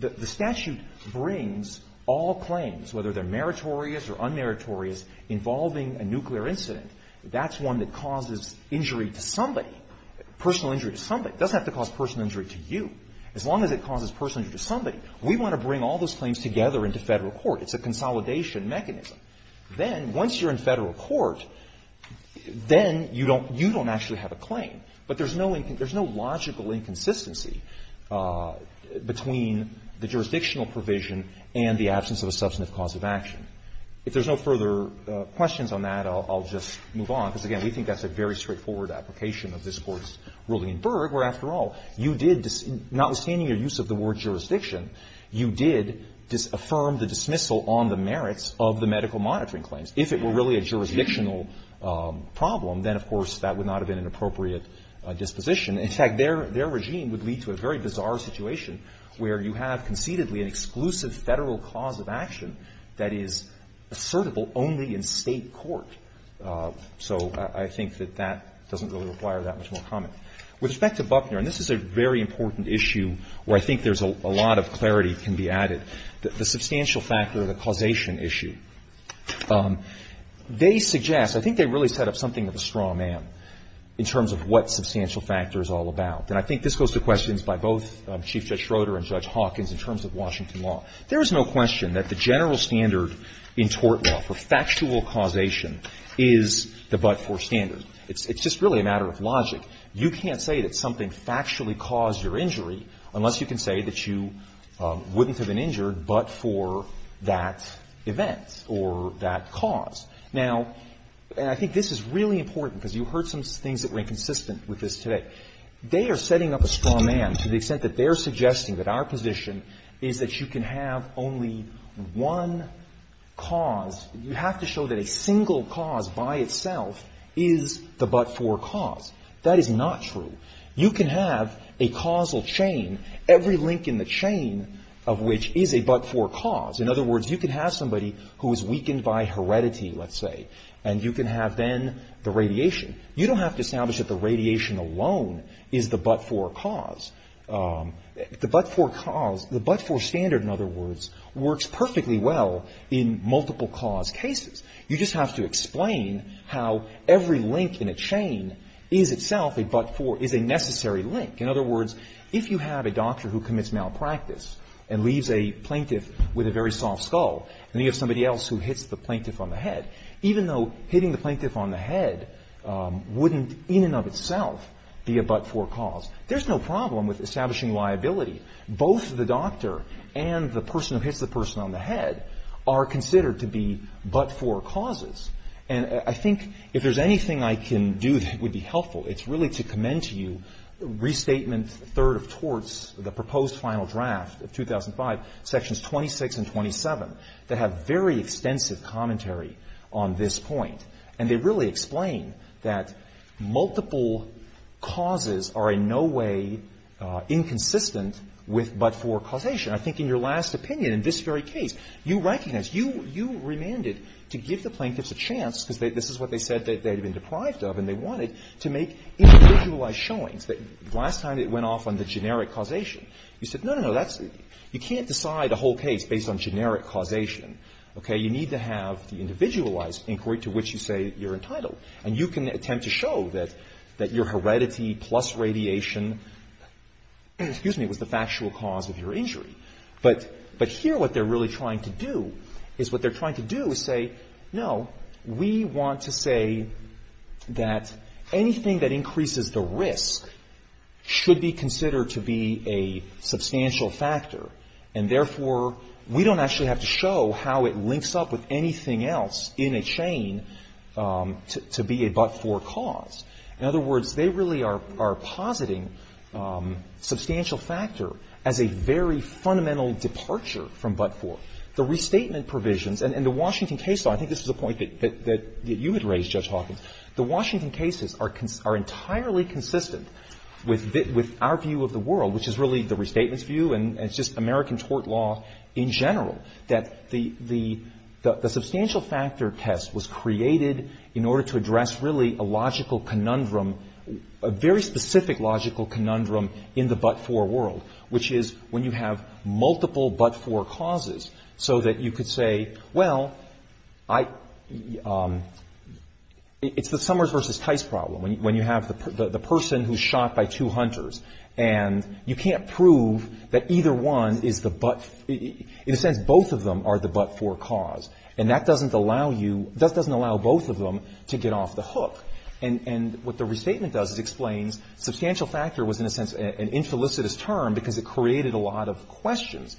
The statute brings all claims, whether they're meritorious or unmeritorious, involving a nuclear incident. That's one that causes injury to somebody, personal injury to somebody. It doesn't have to cause personal injury to you. As long as it causes personal injury to somebody, we want to bring all those claims together into federal court. It's a consolidation mechanism. Then, once you're in federal court, then you don't actually have a claim. But there's no logical inconsistency between the jurisdictional provision and the absence of a substantive cause of action. If there's no further questions on that, I'll just move on, because, again, we think that's a very straightforward application of this Court's ruling in Berg, where, after all, you did, notwithstanding your use of the word jurisdiction, you did affirm the dismissal on the merits of the medical monitoring claims. If it were really a jurisdictional problem, then, of course, that would not have been an appropriate disposition. In fact, their regime would lead to a very bizarre situation where you have concededly an exclusive federal cause of action that is assertable only in state court. So I think that that doesn't really require that much more comment. With respect to Buckner, and this is a very important issue where I think there's a lot of clarity can be added, the substantial factor, the causation issue, they suggest, I think they really set up something of a straw man in terms of what substantial factor is all about. And I think this goes to questions by both Chief Judge Schroeder and Judge Hawkins in terms of Washington law. There is no question that the general standard in tort law for factual causation is the Buckner standard. It's just really a matter of logic. You can't say that something factually caused your injury unless you can say that you wouldn't have been injured but for that event or that cause. Now, and I think this is really important because you heard some things that were inconsistent with this today. They are setting up a straw man to the extent that they're suggesting that our position is that you can have only one cause. You have to show that a single cause by itself is the but-for cause. That is not true. You can have a causal chain, every link in the chain of which is a but-for cause. In other words, you can have somebody who is weakened by heredity, let's say, and you can have then the radiation. You don't have to establish that the radiation alone is the but-for cause. The but-for cause, the but-for standard, in other words, works perfectly well in multiple cause cases. You just have to explain how every link in a chain is itself a but-for, is a necessary link. In other words, if you have a doctor who commits malpractice and leaves a plaintiff with a very soft skull and you have somebody else who hits the plaintiff on the head, even though hitting the plaintiff on the head wouldn't in and of itself be a but-for cause, there's no problem with establishing liability. Both the doctor and the person who hits the person on the head are considered to be but-for causes. And I think if there's anything I can do that would be helpful, it's really to commend to you Restatement 3rd of Torts, the proposed final draft of 2005, Sections 26 and 27, that have very extensive commentary on this point. And they really explain that multiple causes are in no way inconsistent with but-for causation. I think in your last opinion, in this very case, you recognized, you remanded to give the plaintiffs a chance, because this is what they said they'd been deprived of and they wanted, to make individualized showings. Last time it went off on the generic causation. You said, no, no, no, you can't decide a whole case based on generic causation. You need to have the individualized inquiry to which you say you're entitled. And you can attempt to show that your heredity plus radiation was the factual cause of your injury. But here what they're really trying to do is say, no, we want to say that anything that increases the risk should be considered to be a substantial factor. And therefore, we don't actually have to show how it links up with anything else in a chain to be a but-for cause. In other words, they really are positing substantial factor as a very fundamental departure from but-for. The restatement provisions, and the Washington case law, I think this is the point that you had raised, Judge Hawking, the Washington cases are entirely consistent with our view of the world, which is really the restatement's view, and it's just American tort law in general, that the substantial factor test was created in order to address really a logical conundrum, a very specific logical conundrum in the but-for world, which is when you have multiple but-for causes, so that you could say, well, it's the Summers versus Tice problem, when you have the person who's shot by two hunters, and you can't prove that either one is the but-for. In a sense, both of them are the but-for cause, and that doesn't allow both of them to get off the hook. And what the restatement does is explain substantial factor was, in a sense, an interlicitous term because it created a lot of questions.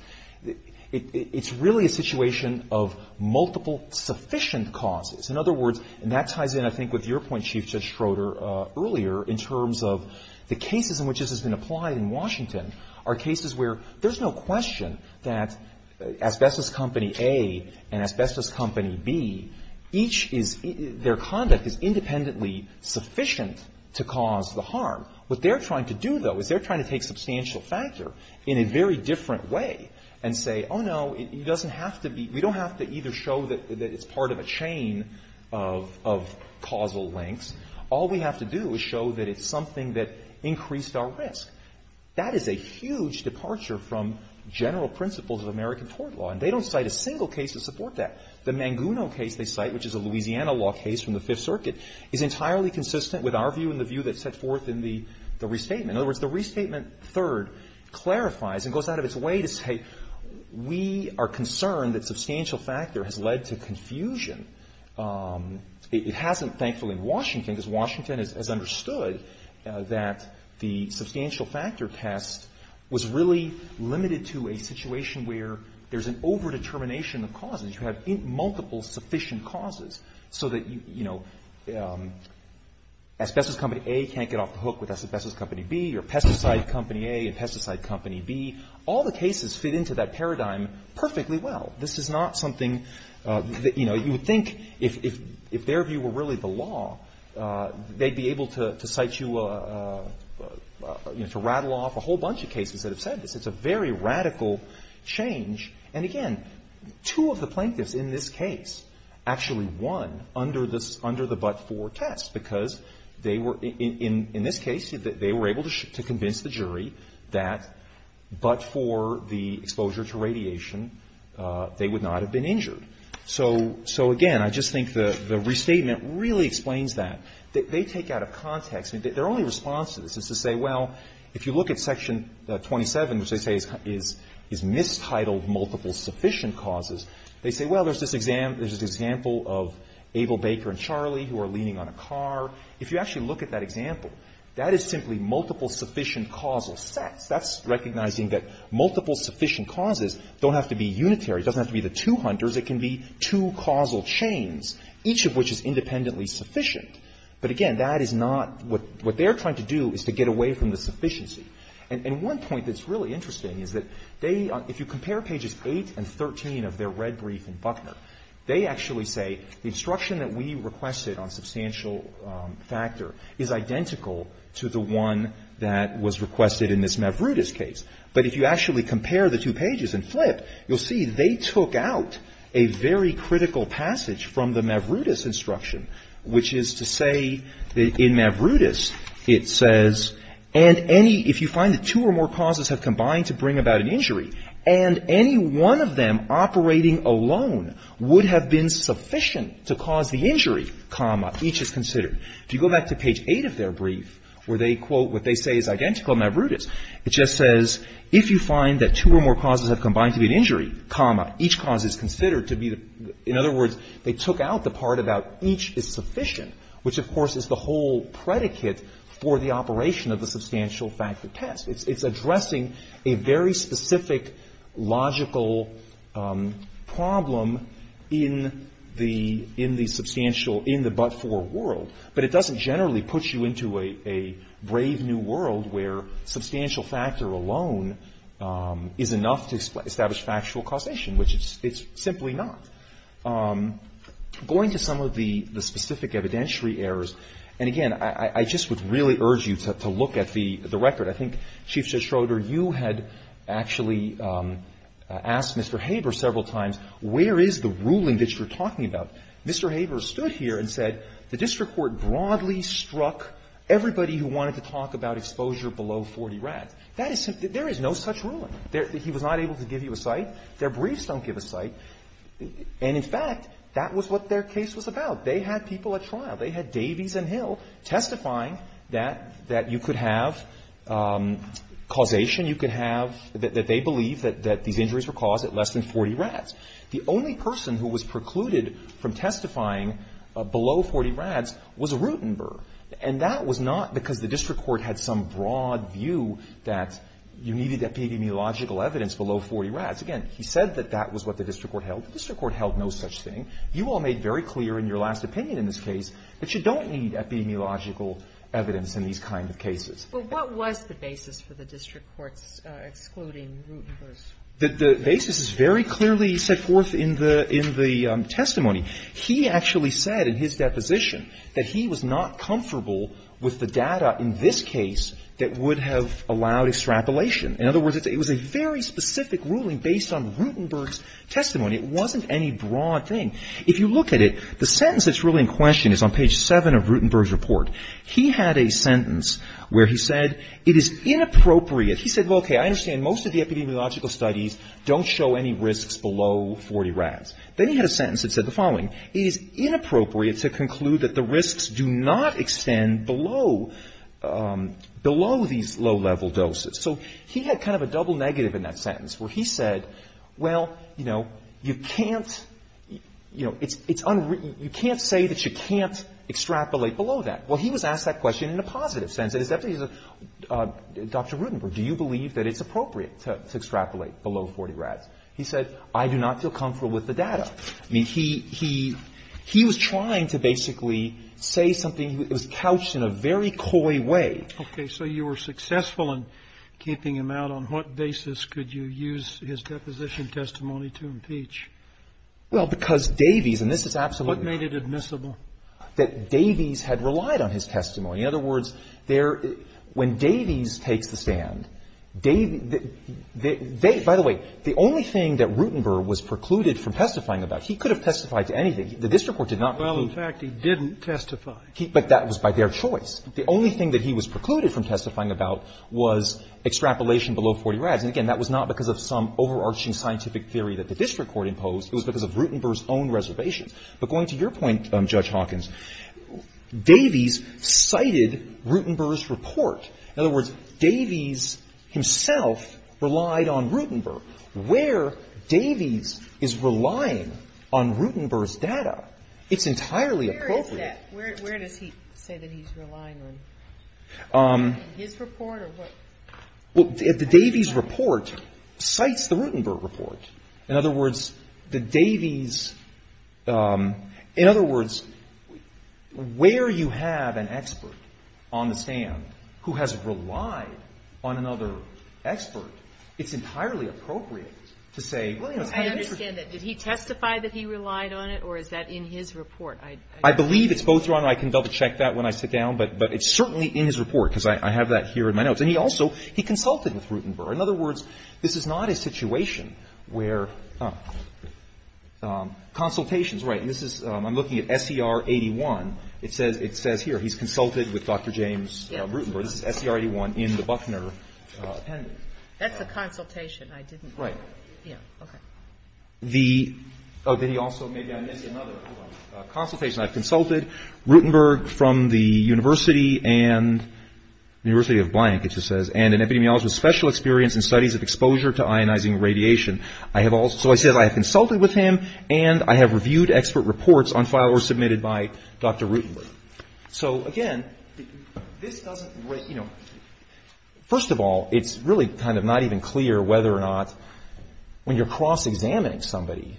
It's really a situation of multiple sufficient causes. In other words, and that ties in, I think, with your point, Chief Judge Schroeder, earlier, in terms of the cases in which this has been applied in Washington are cases where there's no question that asbestos company A and asbestos company B, their conduct is independently sufficient to cause the harm. What they're trying to do, though, what they're trying to take substantial factor in a very different way and say, oh, no, it doesn't have to be, we don't have to either show that it's part of a chain of causal links, all we have to do is show that it's something that increased our risk. That is a huge departure from general principles of American tort law, and they don't cite a single case to support that. The Manguno case they cite, which is a Louisiana law case from the Fifth Circuit, is entirely consistent with our view and the view that's set forth in the restatement. In other words, the restatement, third, clarifies and goes out of its way to say we are concerned that substantial factor has led to confusion. It hasn't, thankfully, in Washington because Washington has understood that the substantial factor test was really limited to a situation where there's an overdetermination of causes. You have multiple sufficient causes so that asbestos company A can't get off the hook with asbestos company B, or pesticide company A and pesticide company B. All the cases fit into that paradigm perfectly well. This is not something, you know, you would think if their view were really the law, they'd be able to cite you, to rattle off a whole bunch of cases that have said this. It's a very radical change. And again, two of the plaintiffs in this case actually won under the but-for test because they were, in this case, they were able to convince the jury that but for the exposure to radiation, they would not have been injured. So again, I just think the restatement really explains that. They take out of context, and their only response to this is to say, well, if you look at section 27, which they say is mistitled multiple sufficient causes, they say, well, there's this example of Abel, Baker, and Charlie who are leaning on a car. If you actually look at that example, that is simply multiple sufficient causal sex. That's recognizing that multiple sufficient causes don't have to be unitary, doesn't have to be the two hunters. It can be two causal chains, each of which is independently sufficient. But again, that is not what they're trying to do is to get away from the sufficiency. And one point that's really interesting is that if you compare pages 8 and 13 of their red brief in Buckner, they actually say the instruction that we requested on substantial factor is identical to the one that was requested in this Mavruta's case. But if you actually compare the two pages and flip, you'll see they took out a very critical passage from the Mavruta's instruction, which is to say that in Mavruta's it says, and any, if you find that two or more causes have combined to bring about an injury, and any one of them operating alone would have been sufficient to cause the injury, comma, each is considered. If you go back to page 8 of their brief, where they quote what they say is identical to Mavruta's, it just says, if you find that two or more causes have combined to be an injury, comma, each cause is considered to be, in other words, they took out the part about each is sufficient, which of course is the whole predicate for the operation of the substantial factor test. It's addressing a very specific logical problem in the but-for world, but it doesn't generally put you into a brave new world where substantial factor alone is enough to establish factual causation, which it's simply not. Going to some of the specific evidentiary errors, and again, I just would really urge you to look at the record. I think, Chief Judge Schroeder, you had actually asked Mr. Haber several times, where is the ruling that you're talking about? Mr. Haber stood here and said, the district court broadly struck everybody who wanted to talk about exposure below 40 rads. There is no such ruling. He was not able to give you a cite, their briefs don't give a cite, and in fact, that was what their case was about. They had people at trial, they had Davies and Hill testifying that you could have causation, you could have, that they believed that these injuries were caused at less than 40 rads. The only person who was precluded from testifying below 40 rads was Rutenberg, and that was not because the district court had some broad view that you needed epidemiological evidence below 40 rads. Again, he said that that was what the district court held. The district court held no such thing. You all made very clear in your last opinion in this case that you don't need epidemiological evidence in these kinds of cases. But what was the basis for the district court excluding Rutenberg? The basis is very clearly set forth in the testimony. He actually said in his deposition that he was not comfortable with the data in this case that would have allowed extrapolation. In other words, it was a very specific ruling based on Rutenberg's testimony. It wasn't any broad thing. If you look at it, the sentence that's really in question is on page 7 of Rutenberg's report. He had a sentence where he said, it is inappropriate, he said, well, okay, I understand most of the epidemiological studies don't show any risks below 40 rads. Then he had a sentence that said the following, it is inappropriate to conclude that the risks do not extend below these low-level doses. So he had kind of a double negative in that sentence where he said, well, you know, you can't, you know, it's unwritten, you can't say that you can't extrapolate below that. Well, he was asked that question in a positive sense. It definitely was, Dr. Rutenberg, do you believe that it's appropriate to extrapolate below 40 rads? He said, I do not feel comfortable with the data. I mean, he was trying to basically say something that was couched in a very coy way. Okay, so you were successful in keeping him out. On what basis could you use his deposition testimony to impeach? Well, because Davies, and this is absolutely... What made it admissible? That Davies had relied on his testimony. In other words, when Davies takes the stand, by the way, the only thing that Rutenberg was precluded from testifying about, he could have testified to anything. The district court did not... Well, in fact, he didn't testify. But that was by their choice. The only thing that he was precluded from testifying about was extrapolation below 40 rads. And again, that was not because of some overarching scientific theory that the district court imposed. It was because of Rutenberg's own reservations. But going to your point, Judge Hawkins, Davies cited Rutenberg's report. In other words, Davies himself relied on Rutenberg. Where Davies is relying on Rutenberg's data, it's entirely appropriate. Where is that? Where does he say that he's relying on? His report or what? Well, the Davies report cites the Rutenberg report. In other words, the Davies... In other words, where you have an expert on the stand who has relied on another expert, it's entirely appropriate to say... I understand that. Did he testify that he relied on it, or is that in his report? I believe it's both. I can double-check that when I sit down. But it's certainly in his report, because I have that here in my notes. And he also consulted with Rutenberg. In other words, this is not a situation where... Consultations, right. I'm looking at SER 81. It says here he's consulted with Dr. James Rutenberg. This is SER 81 in the Buckner pending. That's a consultation. I didn't... Right. Yeah, okay. The... Oh, then he also... Maybe I missed another one. Consultation. I've consulted Rutenberg from the University and... University of blank, it just says. And an epidemiologist with special experience in studies of exposure to ionizing radiation. I have also... So I said I have consulted with him, and I have reviewed expert reports on files that were submitted by Dr. Rutenberg. So, again, this doesn't... You know, first of all, it's really kind of not even clear whether or not... When you're cross-examining somebody,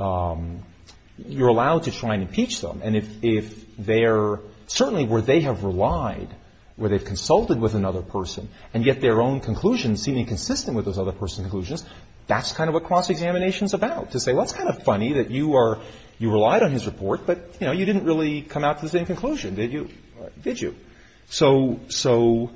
you're allowed to try and impeach them. And if they're... Certainly where they have relied, where they've consulted with another person and get their own conclusions seeming consistent with those other person's conclusions, that's kind of what cross-examination's about. To say, well, it's kind of funny that you are... You relied on his report, but, you know, you didn't really come out with any conclusion, did you? Did you? So...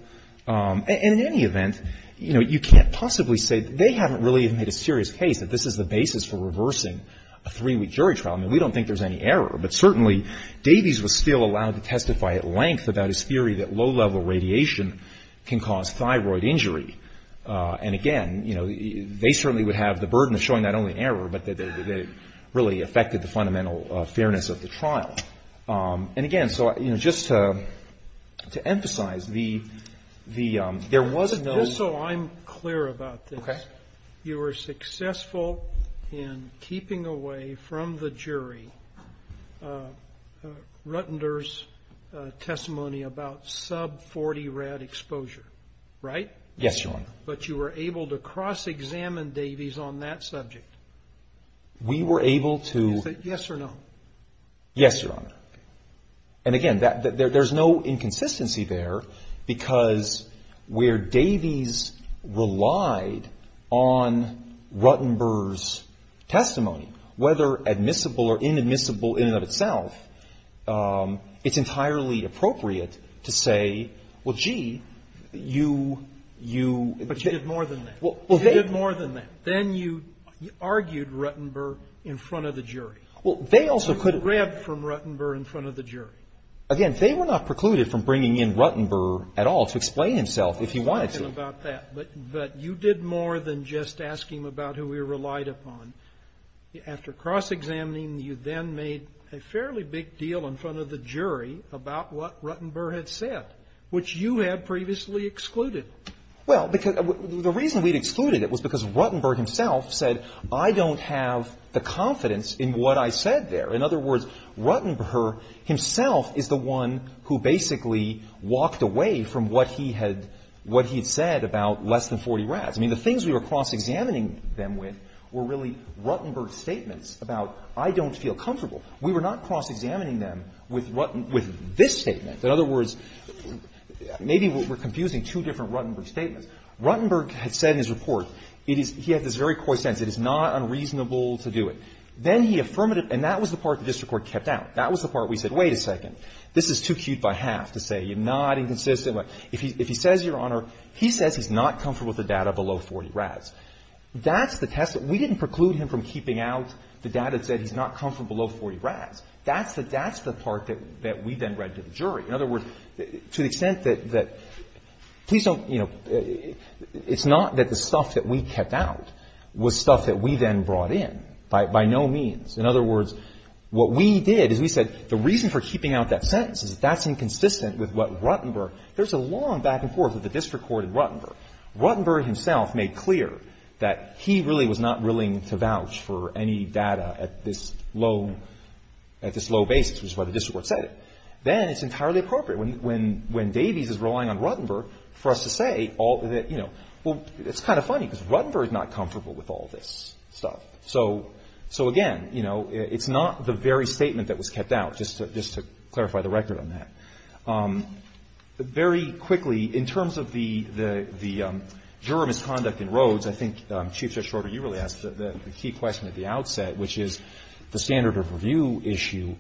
And in any event, you know, you can't possibly say... They haven't really even made a serious case that this is the basis for reversing a three-week jury trial. I mean, we don't think there's any error, but certainly Davies was still allowed to testify at length about his theory that low-level radiation can cause thyroid injury. And, again, you know, they certainly would have the burden of showing not only error, but that it really affected the fundamental fairness of the trial. And, again, so, you know, just to emphasize, the... Just so I'm clear about this... OK. You were successful in keeping away from the jury Ruttender's testimony about sub-40 rad exposure, right? Yes, Your Honor. But you were able to cross-examine Davies on that subject? We were able to... Yes or no? Yes, Your Honor. And, again, there's no inconsistency there because where Davies relied on Ruttender's testimony, whether admissible or inadmissible in and of itself, it's entirely appropriate to say, Well, gee, you... But you did more than that. You did more than that. Then you argued Ruttender in front of the jury. You rebbed from Ruttender in front of the jury. Again, they were not precluded from bringing in Ruttender at all to explain himself if he wanted to. But you did more than just asking about who he relied upon. After cross-examining, you then made a fairly big deal in front of the jury about what Ruttender had said, which you had previously excluded. Well, the reason we'd excluded it was because Ruttender himself said, I don't have the confidence in what I said there. In other words, Ruttender himself is the one who basically walked away from what he had said about less than 40 rads. I mean, the things we were cross-examining them with were really Ruttender's statements about, I don't feel comfortable. We were not cross-examining them with this statement. In other words, maybe we're confusing two different Ruttender statements. Ruttender had said in his report, he had this very coy sense, it is not unreasonable to do it. Then he affirmed it, and that was the part the district court kept out. That was the part we said, wait a second, this is too cheap by half to say you're not inconsistent. If he says, Your Honor, he says he's not comfortable with the data below 40 rads. That's the test. We didn't preclude him from keeping out the data that said he's not comfortable below 40 rads. That's the part that we then read to the jury. In other words, to the extent that, please don't, you know, it's not that the stuff that we kept out was stuff that we then brought in by no means. In other words, what we did is we said, the reason for keeping out that sentence is that that's inconsistent with what Ruttender, there's a long back and forth with the district court and Ruttender. Ruttender himself made clear that he really was not willing to vouch for any data at this low basis, which is why the district court said it. Then it's entirely appropriate. When Davies is relying on Ruttender for us to say, you know, well, it's kind of funny because Ruttender is not comfortable with all this stuff. So, again, you know, it's not the very statement that was kept out, just to clarify the record on that. Very quickly, in terms of the juror misconduct in Rhodes, I think Chief Justice Rutter, you really asked the key question at the outset, which is the standard of review issue.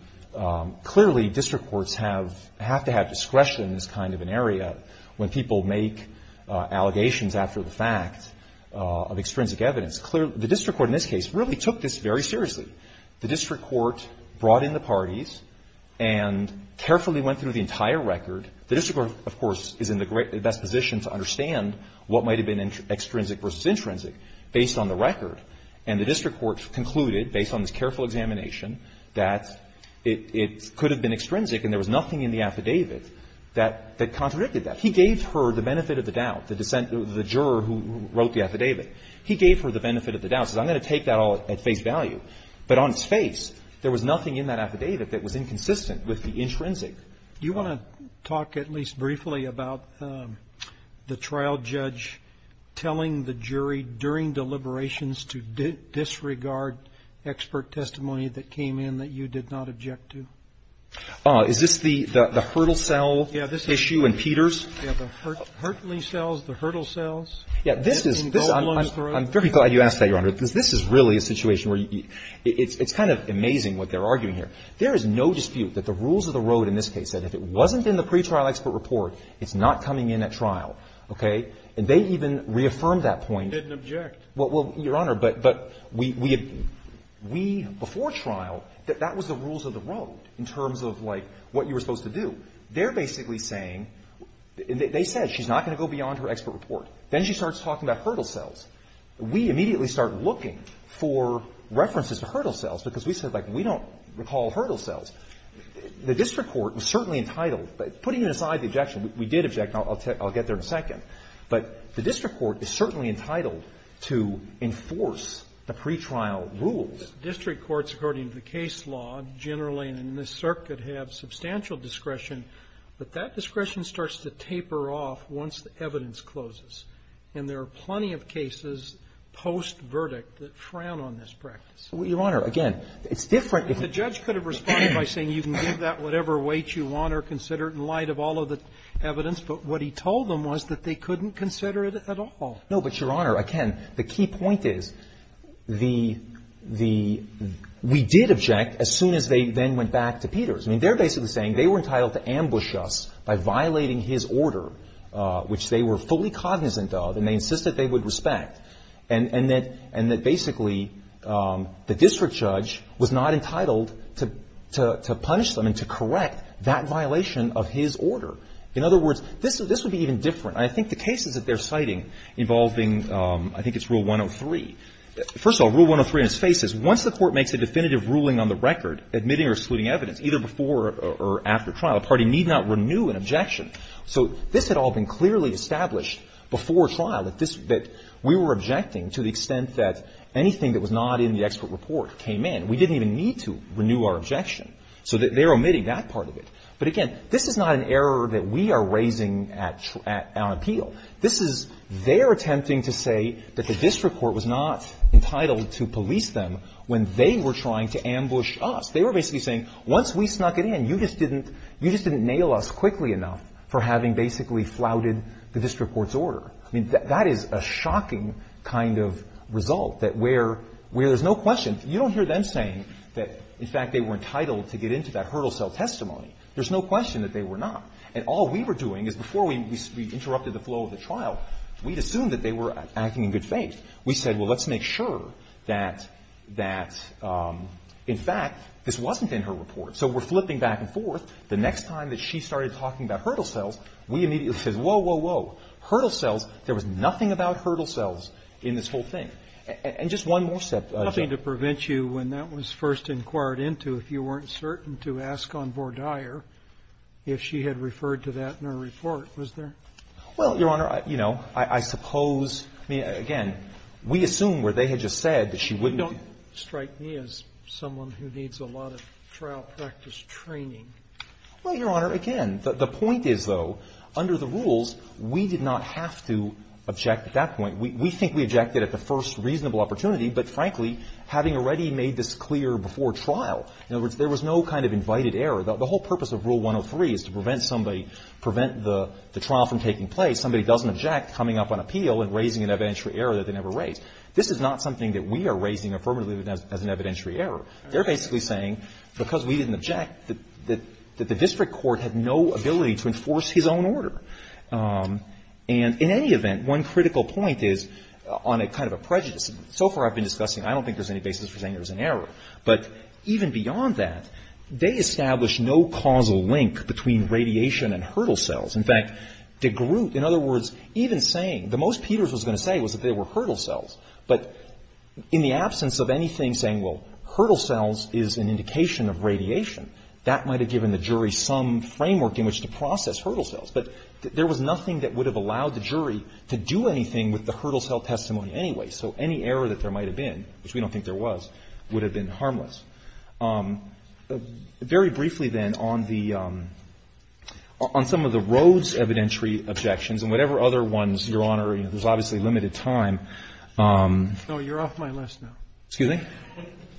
Clearly district courts have to have discretion in this kind of an area when people make allegations after the fact of extrinsic evidence. The district court in this case really took this very seriously. The district court brought in the parties and carefully went through the entire record. The district court, of course, is in the best position to understand what might have been extrinsic versus intrinsic based on the record. And the district court concluded, based on this careful examination, that it could have been extrinsic and there was nothing in the affidavit that contradicted that. He gave her the benefit of the doubt, the juror who wrote the affidavit. He gave her the benefit of the doubt. He said, I'm going to take that all at face value. But on its face, there was nothing in that affidavit that was inconsistent with the extrinsic. Do you want to talk at least briefly about the trial judge telling the jury during deliberations to disregard expert testimony that came in that you did not object to? Is this the hurdle cell issue in Peters? Yeah, the hurtling cells, the hurdle cells. I'm very glad you asked that, Your Honor, because this is really a situation where it's kind of amazing what they're arguing here. There is no dispute that the rules of the road in this case, that if it wasn't in the pretrial expert report, it's not coming in at trial, okay? And they've even reaffirmed that point. Didn't object. Well, Your Honor, but we, before trial, that that was the rules of the road in terms of, like, what you were supposed to do. They're basically saying, they said she's not going to go beyond her expert report. Then she starts talking about hurdle cells. We immediately started looking for references to hurdle cells because we said, like, we don't recall hurdle cells. The district court was certainly entitled... Putting aside the objection, we did object. I'll get there in a second. But the district court is certainly entitled to enforce the pretrial rules. District courts, according to the case law, generally in this circuit have substantial discretion, but that discretion starts to taper off once the evidence closes. And there are plenty of cases post-verdict that frown on this practice. Your Honor, again, it's different... The judge could have responded by saying you can give that whatever weight you want or consider it in light of all of the evidence, but what he told them was that they couldn't consider it at all. No, but, Your Honor, again, the key point is the... We did object as soon as they then went back to Peters. I mean, they're basically saying they were entitled to ambush us by violating his order, which they were fully cognizant of, and they insisted they would respect. And that basically the district judge was not entitled to punish them and to correct that violation of his order. In other words, this would be even different. I think the cases that they're citing involving... I think it's Rule 103. First of all, Rule 103 in its face is once the court makes a definitive ruling on the record, admitting or excluding evidence, either before or after trial, a party need not renew an objection. So this had all been clearly established before trial, that we were objecting to the extent that anything that was not in the expert report came in. We didn't even need to renew our objection. So they're omitting that part of it. But, again, this is not an error that we are raising on appeal. This is their attempting to say that the district court was not entitled to police them when they were trying to ambush us. They were basically saying, once we snuck it in, you just didn't nail us quickly enough for having basically flouted the district court's order. I mean, that is a shocking kind of result, that where there's no question... You don't hear them saying that, in fact, they were entitled to get into that hurdle cell testimony. There's no question that they were not. And all we were doing is, before we interrupted the flow of the trial, we'd assumed that they were acting in good faith. We said, well, let's make sure that, in fact, this wasn't in her report. So we're flipping back and forth. The next time that she started talking about hurdle cells, we immediately said, whoa, whoa, whoa. Hurdle cells? There was nothing about hurdle cells in this whole thing. And just one more step... Nothing to prevent you, when that was first inquired into, if you weren't certain, to ask on board hire if she had referred to that in her report, was there? Well, Your Honor, you know, I suppose... Again, we assumed, where they had just said that she wouldn't... You don't strike me as someone Well, Your Honor, again, the point is, though, under the rules, we did not have to object at that point. We think we objected at the first reasonable opportunity, but frankly, having already made this clear before trial, in other words, there was no kind of invited error. The whole purpose of Rule 103 is to prevent the trial from taking place. Somebody doesn't object coming up on appeal and raising an evidentiary error that they never raised. This is not something that we are raising affirmatively as an evidentiary error. They're basically saying, because we didn't object, that the district court had no ability to enforce his own order. And in any event, one critical point is, on a kind of a prejudice, so far I've been discussing, I don't think there's any basis for saying there was an error, but even beyond that, they established no causal link between radiation and hurdle cells. In fact, DeGroote, in other words, even saying, the most Peters was going to say was that they were hurdle cells, but in the absence of anything saying, well, hurdle cells is an indication of radiation, that might have given the jury some framework in which to process hurdle cells. But there was nothing that would have allowed the jury to do anything with the hurdle cell testimony anyway, so any error that there might have been, which we don't think there was, would have been harmless. Very briefly, then, on some of the Rhodes evidentiary objections and whatever other ones, Your Honor, there's obviously limited time. No, you're off my list now. Excuse me?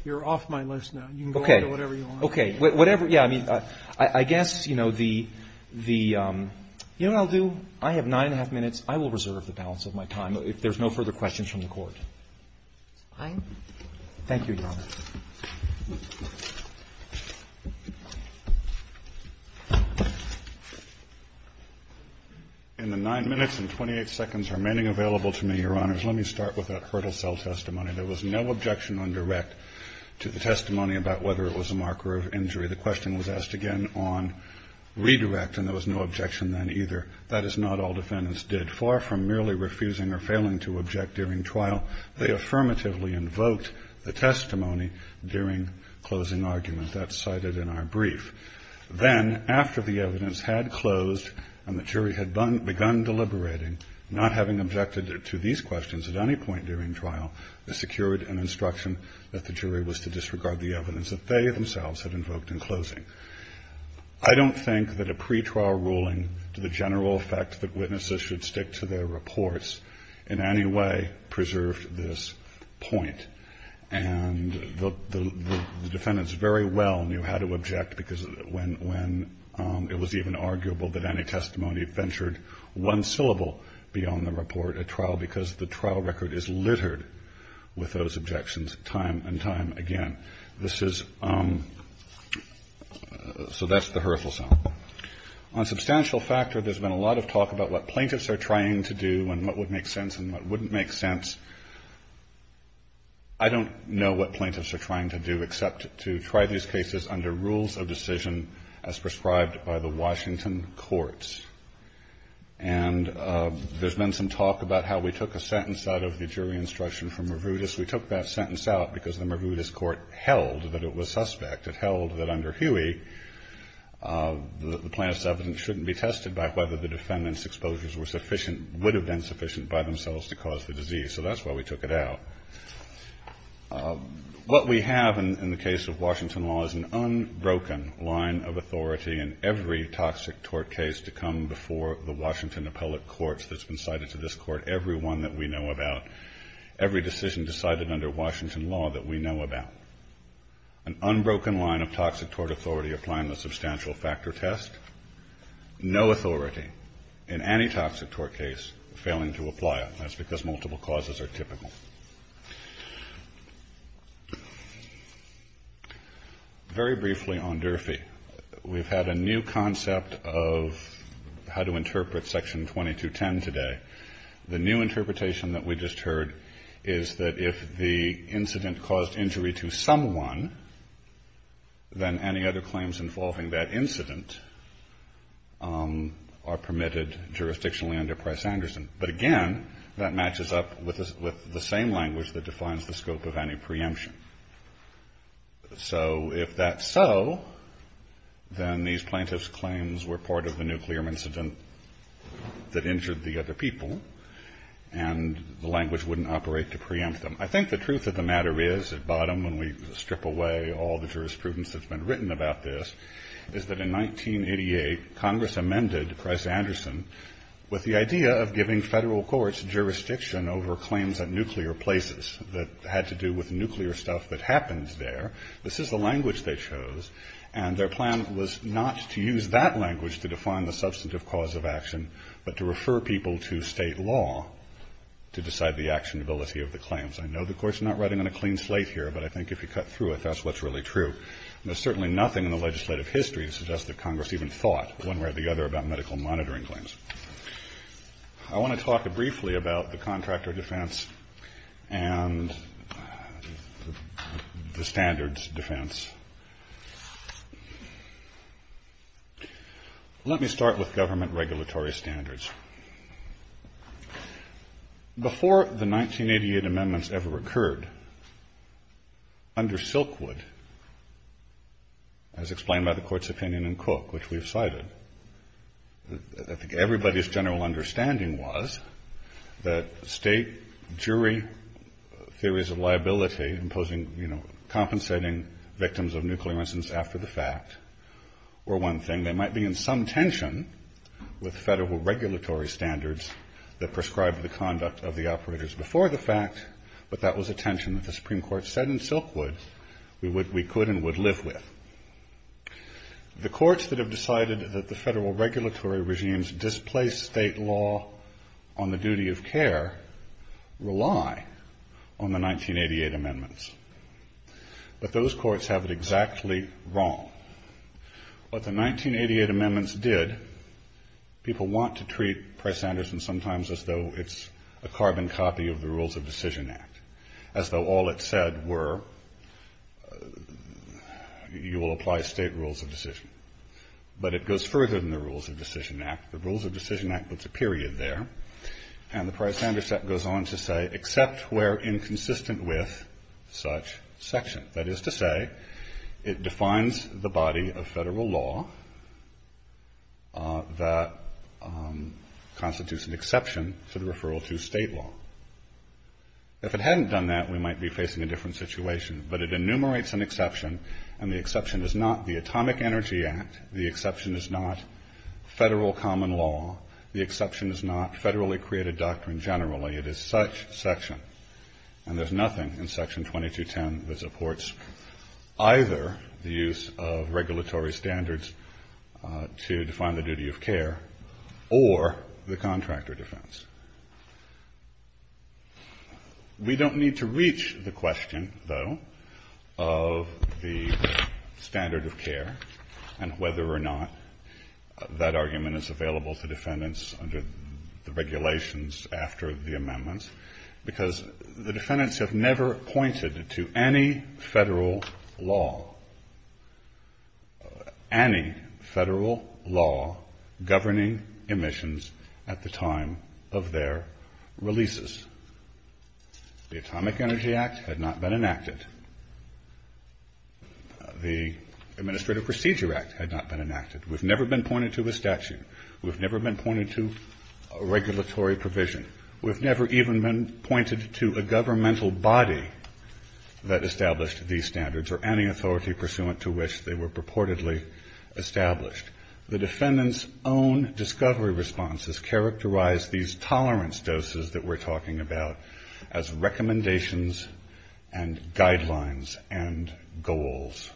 You're off my list now. You can go back to whatever you want. Okay, whatever, yeah, I mean, I guess, you know, the... You know what I'll do? I have nine and a half minutes. I will reserve the balance of my time if there's no further questions from the Court. Fine. Thank you, Your Honor. And the nine minutes and 28 seconds are remaining available to me, Your Honor. Let me start with that hurdle cell testimony. There was no objection on direct to the testimony about whether it was a marker of injury. The question was asked again on redirect, and there was no objection then either. That is not all defendants did. Far from merely refusing or failing to object during trial, they affirmatively invoked the testimony during closing argument. That's cited in our brief. Then, after the evidence had closed and the jury had begun deliberating, not having objected to these questions at any point during trial, they secured an instruction that the jury was to disregard the evidence that they themselves had invoked in closing. I don't think that a pretrial ruling to the general effect that witnesses should stick to their reports in any way preserved this point. And the defendants very well knew how to object because when it was even arguable that any testimony should be ventured one syllable beyond the report at trial because the trial record is littered with those objections time and time again. This is... So that's the hurdle cell. On substantial factor, there's been a lot of talk about what plaintiffs are trying to do and what would make sense and what wouldn't make sense. I don't know what plaintiffs are trying to do except to try these cases under rules of decision as prescribed by the Washington courts. And there's been some talk about how we took a sentence out of the jury instruction from Maroudis. We took that sentence out because the Maroudis court held that it was suspect. It held that under Huey, the plaintiff's evidence shouldn't be tested by whether the defendants' exposures were sufficient... would have been sufficient by themselves to cause the disease. So that's why we took it out. What we have in the case of Washington law is an unbroken line of authority in every toxic tort case to come before the Washington appellate court that's been cited to this court, every one that we know about, every decision decided under Washington law that we know about. An unbroken line of toxic tort authority applying the substantial factor test. No authority in any toxic tort case failing to apply it. That's because multiple causes are typical. Very briefly on Durfee. We've had a new concept of how to interpret Section 2210 today. The new interpretation that we just heard is that if the incident caused injury to someone, then any other claims involving that incident are permitted jurisdictionally under Price-Anderson. But again, that matches up with the same language that defines the scope of any preemption. So if that's so, then these plaintiff's claims were part of the nuclear incident that injured the other people, and the language wouldn't operate to preempt them. I think the truth of the matter is, at bottom, when we strip away all the jurisprudence that's been written about this, is that in 1988, Congress amended Price-Anderson with the idea of giving federal courts jurisdiction over claims at nuclear places that had to do with nuclear stuff that happened there. This is the language they chose, and their plan was not to use that language to define the substantive cause of action, but to refer people to state law to decide the actionability of the claims. I know the Court's not writing on a clean slate here, but I think if you cut through it, that's what's really true. There's certainly nothing in the legislative history that suggests that Congress even thought, one way or the other, about medical monitoring claims. I want to talk briefly about the contractor defense and the standards defense. Let me start with government regulatory standards. Before the 1988 amendments ever occurred, under Silkwood, as explained by the Court's opinion in Cook, which we've cited, I think everybody's general understanding was that state jury theories of liability imposing, you know, compensating victims of nuclear incidents after the fact were one thing. They might be in some tension with federal regulatory standards that prescribed the conduct of the operators before the fact, but that was a tension that the Supreme Court said in Silkwood we could and would live with. The courts that have decided that the federal regulatory regimes displace state law on the duty of care rely on the 1988 amendments. But those courts have it exactly wrong. What the 1988 amendments did, people want to treat Price-Anderson sometimes as though it's a carbon copy of the Rules of Decision Act, as though all it said were you will apply state rules of decision. But it goes further than the Rules of Decision Act. The Rules of Decision Act puts a period there, and the Price-Anderson goes on to say except where inconsistent with such section. That is to say, it defines the body of federal law that constitutes an exception to the referral to state law. If it hadn't done that, we might be facing a different situation, but it enumerates an exception, and the exception is not the Atomic Energy Act, the exception is not federal common law, the exception is not federally created doctrine generally. It is such section. And there's nothing in Section 2210 that supports either the use of regulatory standards to define the duty of care or the contractor defense. We don't need to reach the question, though, of the standard of care and whether or not that argument is available to defendants under the regulations after the amendments, because the defendants have never pointed to any federal law, any federal law governing emissions at the time of their releases. The Atomic Energy Act had not been enacted. The Administrative Procedure Act had not been enacted. We've never been pointed to a statute. We've never been pointed to a regulatory provision. We've never even been pointed to a governmental body that established these standards or any authority pursuant to which they were purportedly established. The defendants' own discovery responses characterize these tolerance doses that we're talking about as recommendations and guidelines and goals.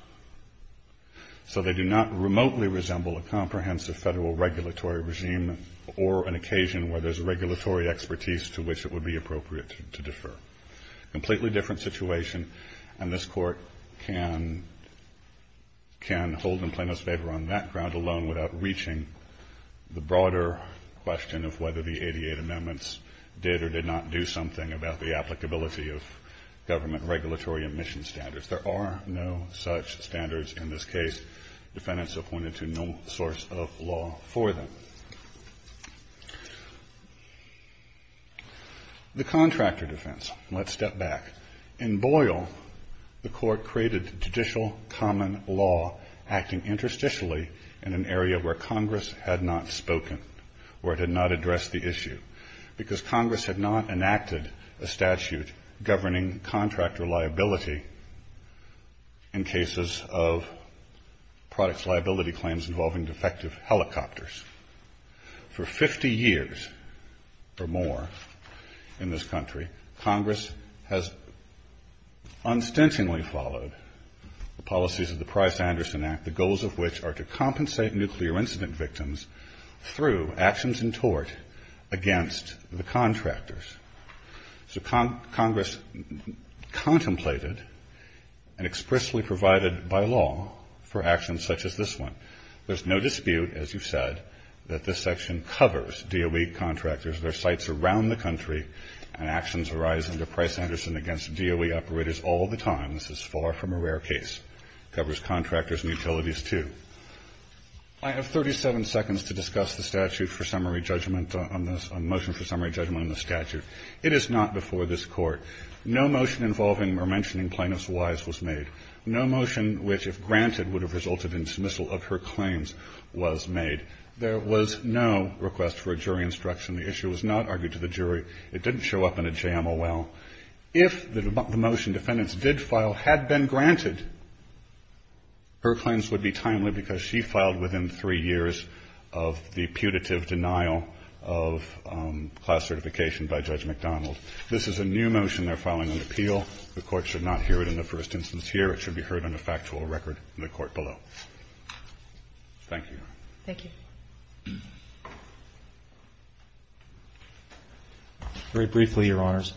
So they do not remotely resemble a comprehensive federal regulatory regime or an occasion where there's a regulatory expertise to which it would be appropriate to defer. Completely different situation, and this Court can hold the plaintiffs' favor on that ground alone without reaching the broader question of whether the 88 amendments did or did not do something about the applicability of government regulatory emission standards. There are no such standards in this case. Defendants have pointed to no source of law for them. The contractor defense. Let's step back. In Boyle, the Court created judicial common law acting interstitially in an area where Congress had not spoken or had not addressed the issue because Congress had not enacted a statute governing contractor liability in cases of products liability claims involving defective helicopters. For 50 years or more in this country, Congress has unstintingly followed the policies of the Price-Anderson Act, the goals of which are to compensate nuclear incident victims through actions in tort against the contractors. So Congress contemplated and expressly provided by law for actions such as this one. There's no dispute, as you've said, that this section covers DOE contractors. There are sites around the country where actions arise under Price-Anderson against DOE operators all the time. This is far from a rare case. It covers contractors and utilities, too. I have 37 seconds to discuss the motion for summary judgment on the statute. It is not before this Court. No motion involving or mentioning plaintiffs' wives was made. No motion which, if granted, would have resulted in dismissal of her claims was made. There was no request for a jury instruction. The issue was not argued to the jury. It didn't show up in a JMOL. If the motion defendants did file had been granted, her claims would be timely because she filed within three years of the putative denial of class certification by Judge McDonald. This is a new motion they're filing on appeal. The Court should not hear it in the first instance here. It should be heard in the factual record in the Court below. Thank you. Thank you. Very briefly, Your Honors,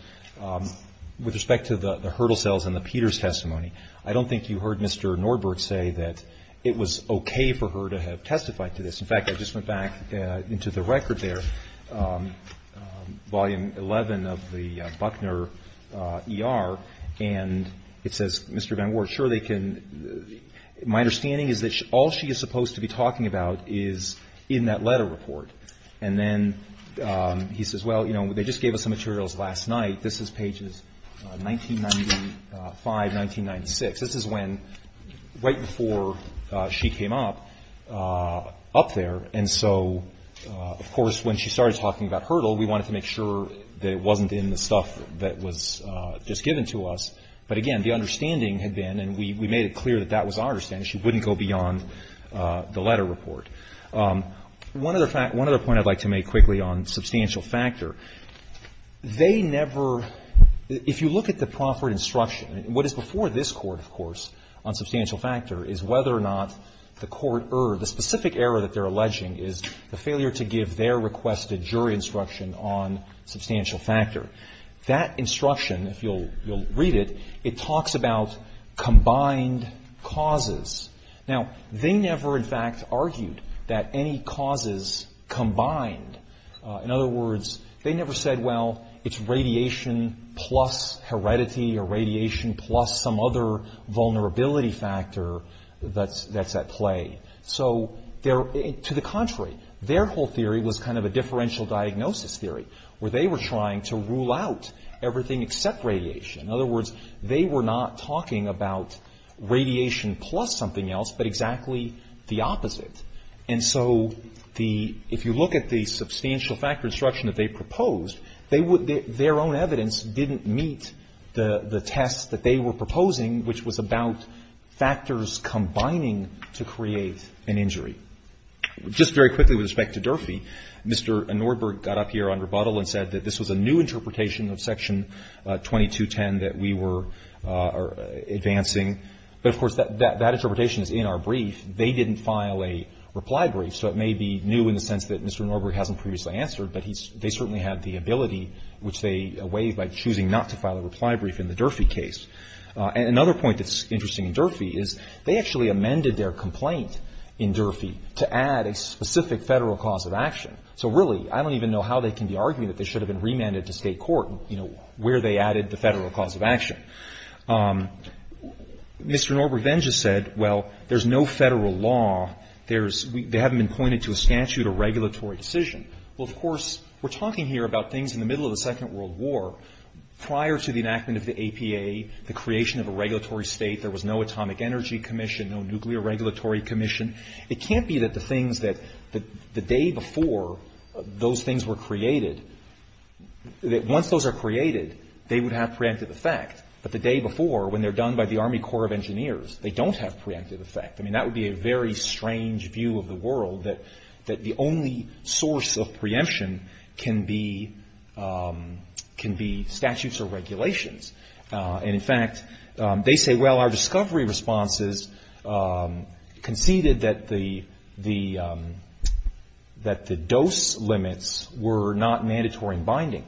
with respect to the hurdle sales and the Peters testimony, I don't think you heard Mr. Norberg say that it was okay for her to have testified to this. In fact, I just went back into the record there. Volume 11 of the Buckner ER, and it says, Mr. Van Wert, sure they can. My understanding is that all she is supposed to be talking about is in that letter report. And then he says, well, you know, they just gave us the materials last night. This is pages 1995, 1996. This is when, right before she came up, up there. And so, of course, when she started talking about hurdle, we wanted to make sure that it wasn't in the stuff that was just given to us. But again, the understanding had been, and we made it clear that that was our understanding, she wouldn't go beyond the letter report. One other point I'd like to make quickly on substantial factor, they never, if you look at the proffered instruction, what is before this Court, of course, on substantial factor, is whether or not the Court erred, or the specific error that they're alleging is the failure to give their requested jury instruction on substantial factor. That instruction, if you'll read it, it talks about combined causes. Now, they never, in fact, argued that any causes combined. In other words, they never said, well, it's radiation plus heredity, or radiation plus some other vulnerability factor that's at play. So, to the contrary, their whole theory was kind of a differential diagnosis theory, where they were trying to rule out everything except radiation. In other words, they were not talking about radiation plus something else, but exactly the opposite. And so, if you look at the substantial factor instruction that they proposed, their own evidence didn't meet the test that they were proposing, which was about factors combining to create an injury. Just very quickly with respect to Durfee, Mr. Norberg got up here on rebuttal and said that this was a new interpretation of Section 2210 that we were advancing. But, of course, that interpretation is in our brief. They didn't file a reply brief, so it may be new in the sense that Mr. Norberg hasn't previously answered, but they certainly had the ability, which they waived by choosing not to file a reply brief in the Durfee case. And another point that's interesting in Durfee is they actually amended their complaint in Durfee to add a specific federal cause of action. So really, I don't even know how they can be arguing that they should have been remanded to state court where they added the federal cause of action. Mr. Norberg then just said, well, there's no federal law. They haven't been pointed to a statute or regulatory decision. Well, of course, we're talking here about things in the middle of the Second World War. Prior to the enactment of the APA, the creation of a regulatory state, there was no Atomic Energy Commission, no Nuclear Regulatory Commission. It can't be that the things that the day before those things were created, that once those are created, they would have preemptive effect. But the day before, when they're done by the Army Corps of Engineers, they don't have preemptive effect. I mean, that would be a very strange view of the world that the only source of preemption can be statutes or regulations. And, in fact, they say, well, our discovery responses conceded that the dose limits were not mandatory and binding.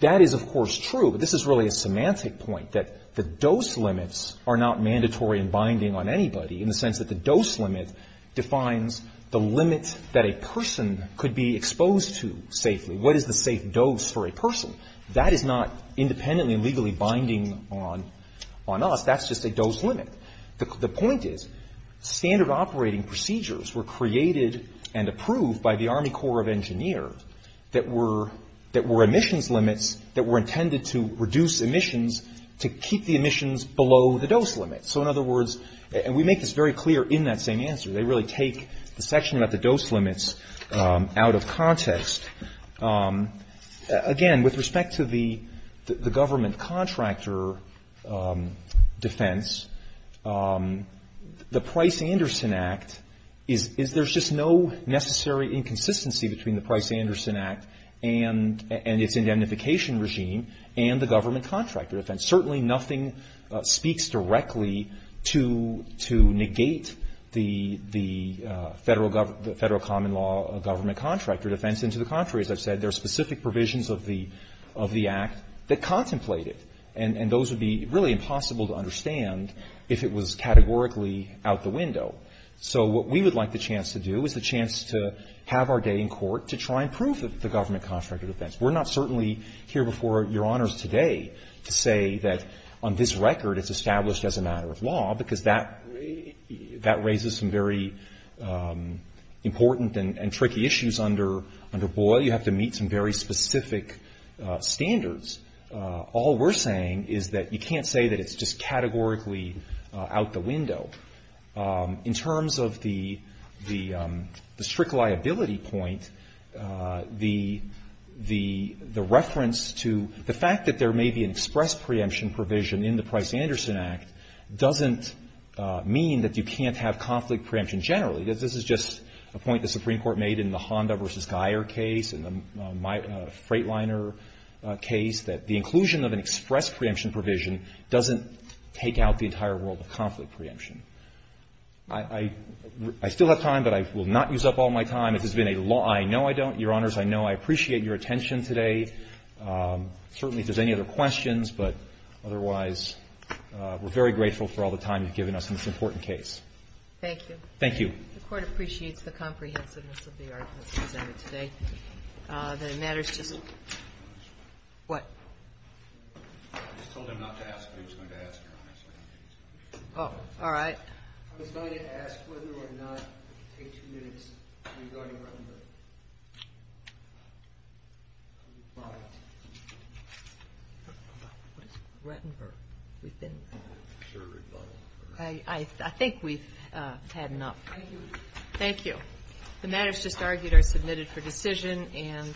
That is, of course, true. But this is really a semantic point, that the dose limits are not mandatory and binding on anybody in the sense that the dose limit defines the limit that a person could be exposed to safely. What is the safe dose for a person? That is not independently and legally binding on us. That's just a dose limit. The point is, standard operating procedures were created and approved by the Army Corps of Engineers that were emissions limits that were intended to reduce emissions to keep the emissions below the dose limit. So, in other words, and we make this very clear in that same answer. They really take the section about the dose limits out of context. Again, with respect to the government contractor defense, the Price-Anderson Act, there's just no necessary inconsistency between the Price-Anderson Act and its indemnification regime and the government contractor defense. Certainly nothing speaks directly to negate the federal common law government contractor defense and to the contrary, as I've said, there are specific provisions of the act that contemplate it and those would be really impossible to understand if it was categorically out the window. So what we would like the chance to do is the chance to have our day in court to try and prove that it's the government contractor defense. We're not certainly here before Your Honors today to say that on this record it's established as a matter of law because that raises some very important and tricky issues under Boyle. You have to meet some very specific standards. All we're saying is that you can't say that it's just categorically out the window. In terms of the strict liability point, the reference to the fact that there may be an express preemption provision in the Price-Anderson Act doesn't mean that you can't have conflict preemption generally. This is just a point the Supreme Court made in the Honda v. Geyer case and the Freightliner case that the inclusion of an express preemption provision doesn't take out the entire world of conflict preemption. I still have time, but I will not use up all my time. This has been a law I know I don't. Your Honors, I know I appreciate your attention today. Certainly if there's any other questions, but otherwise we're very grateful for all the time you've given us on this important case. Thank you. Thank you. The Court appreciates the comprehensiveness of the argument presented today. The matter's just... What? I told him not to ask, but he's going to ask. Oh, all right. I was going to ask whether or not the case is regarding Brentonburg. I think we've had enough. Thank you. The matters just argued are submitted for decision, and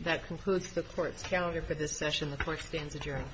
that concludes the Court's calendar for this session. The Court stands adjourned.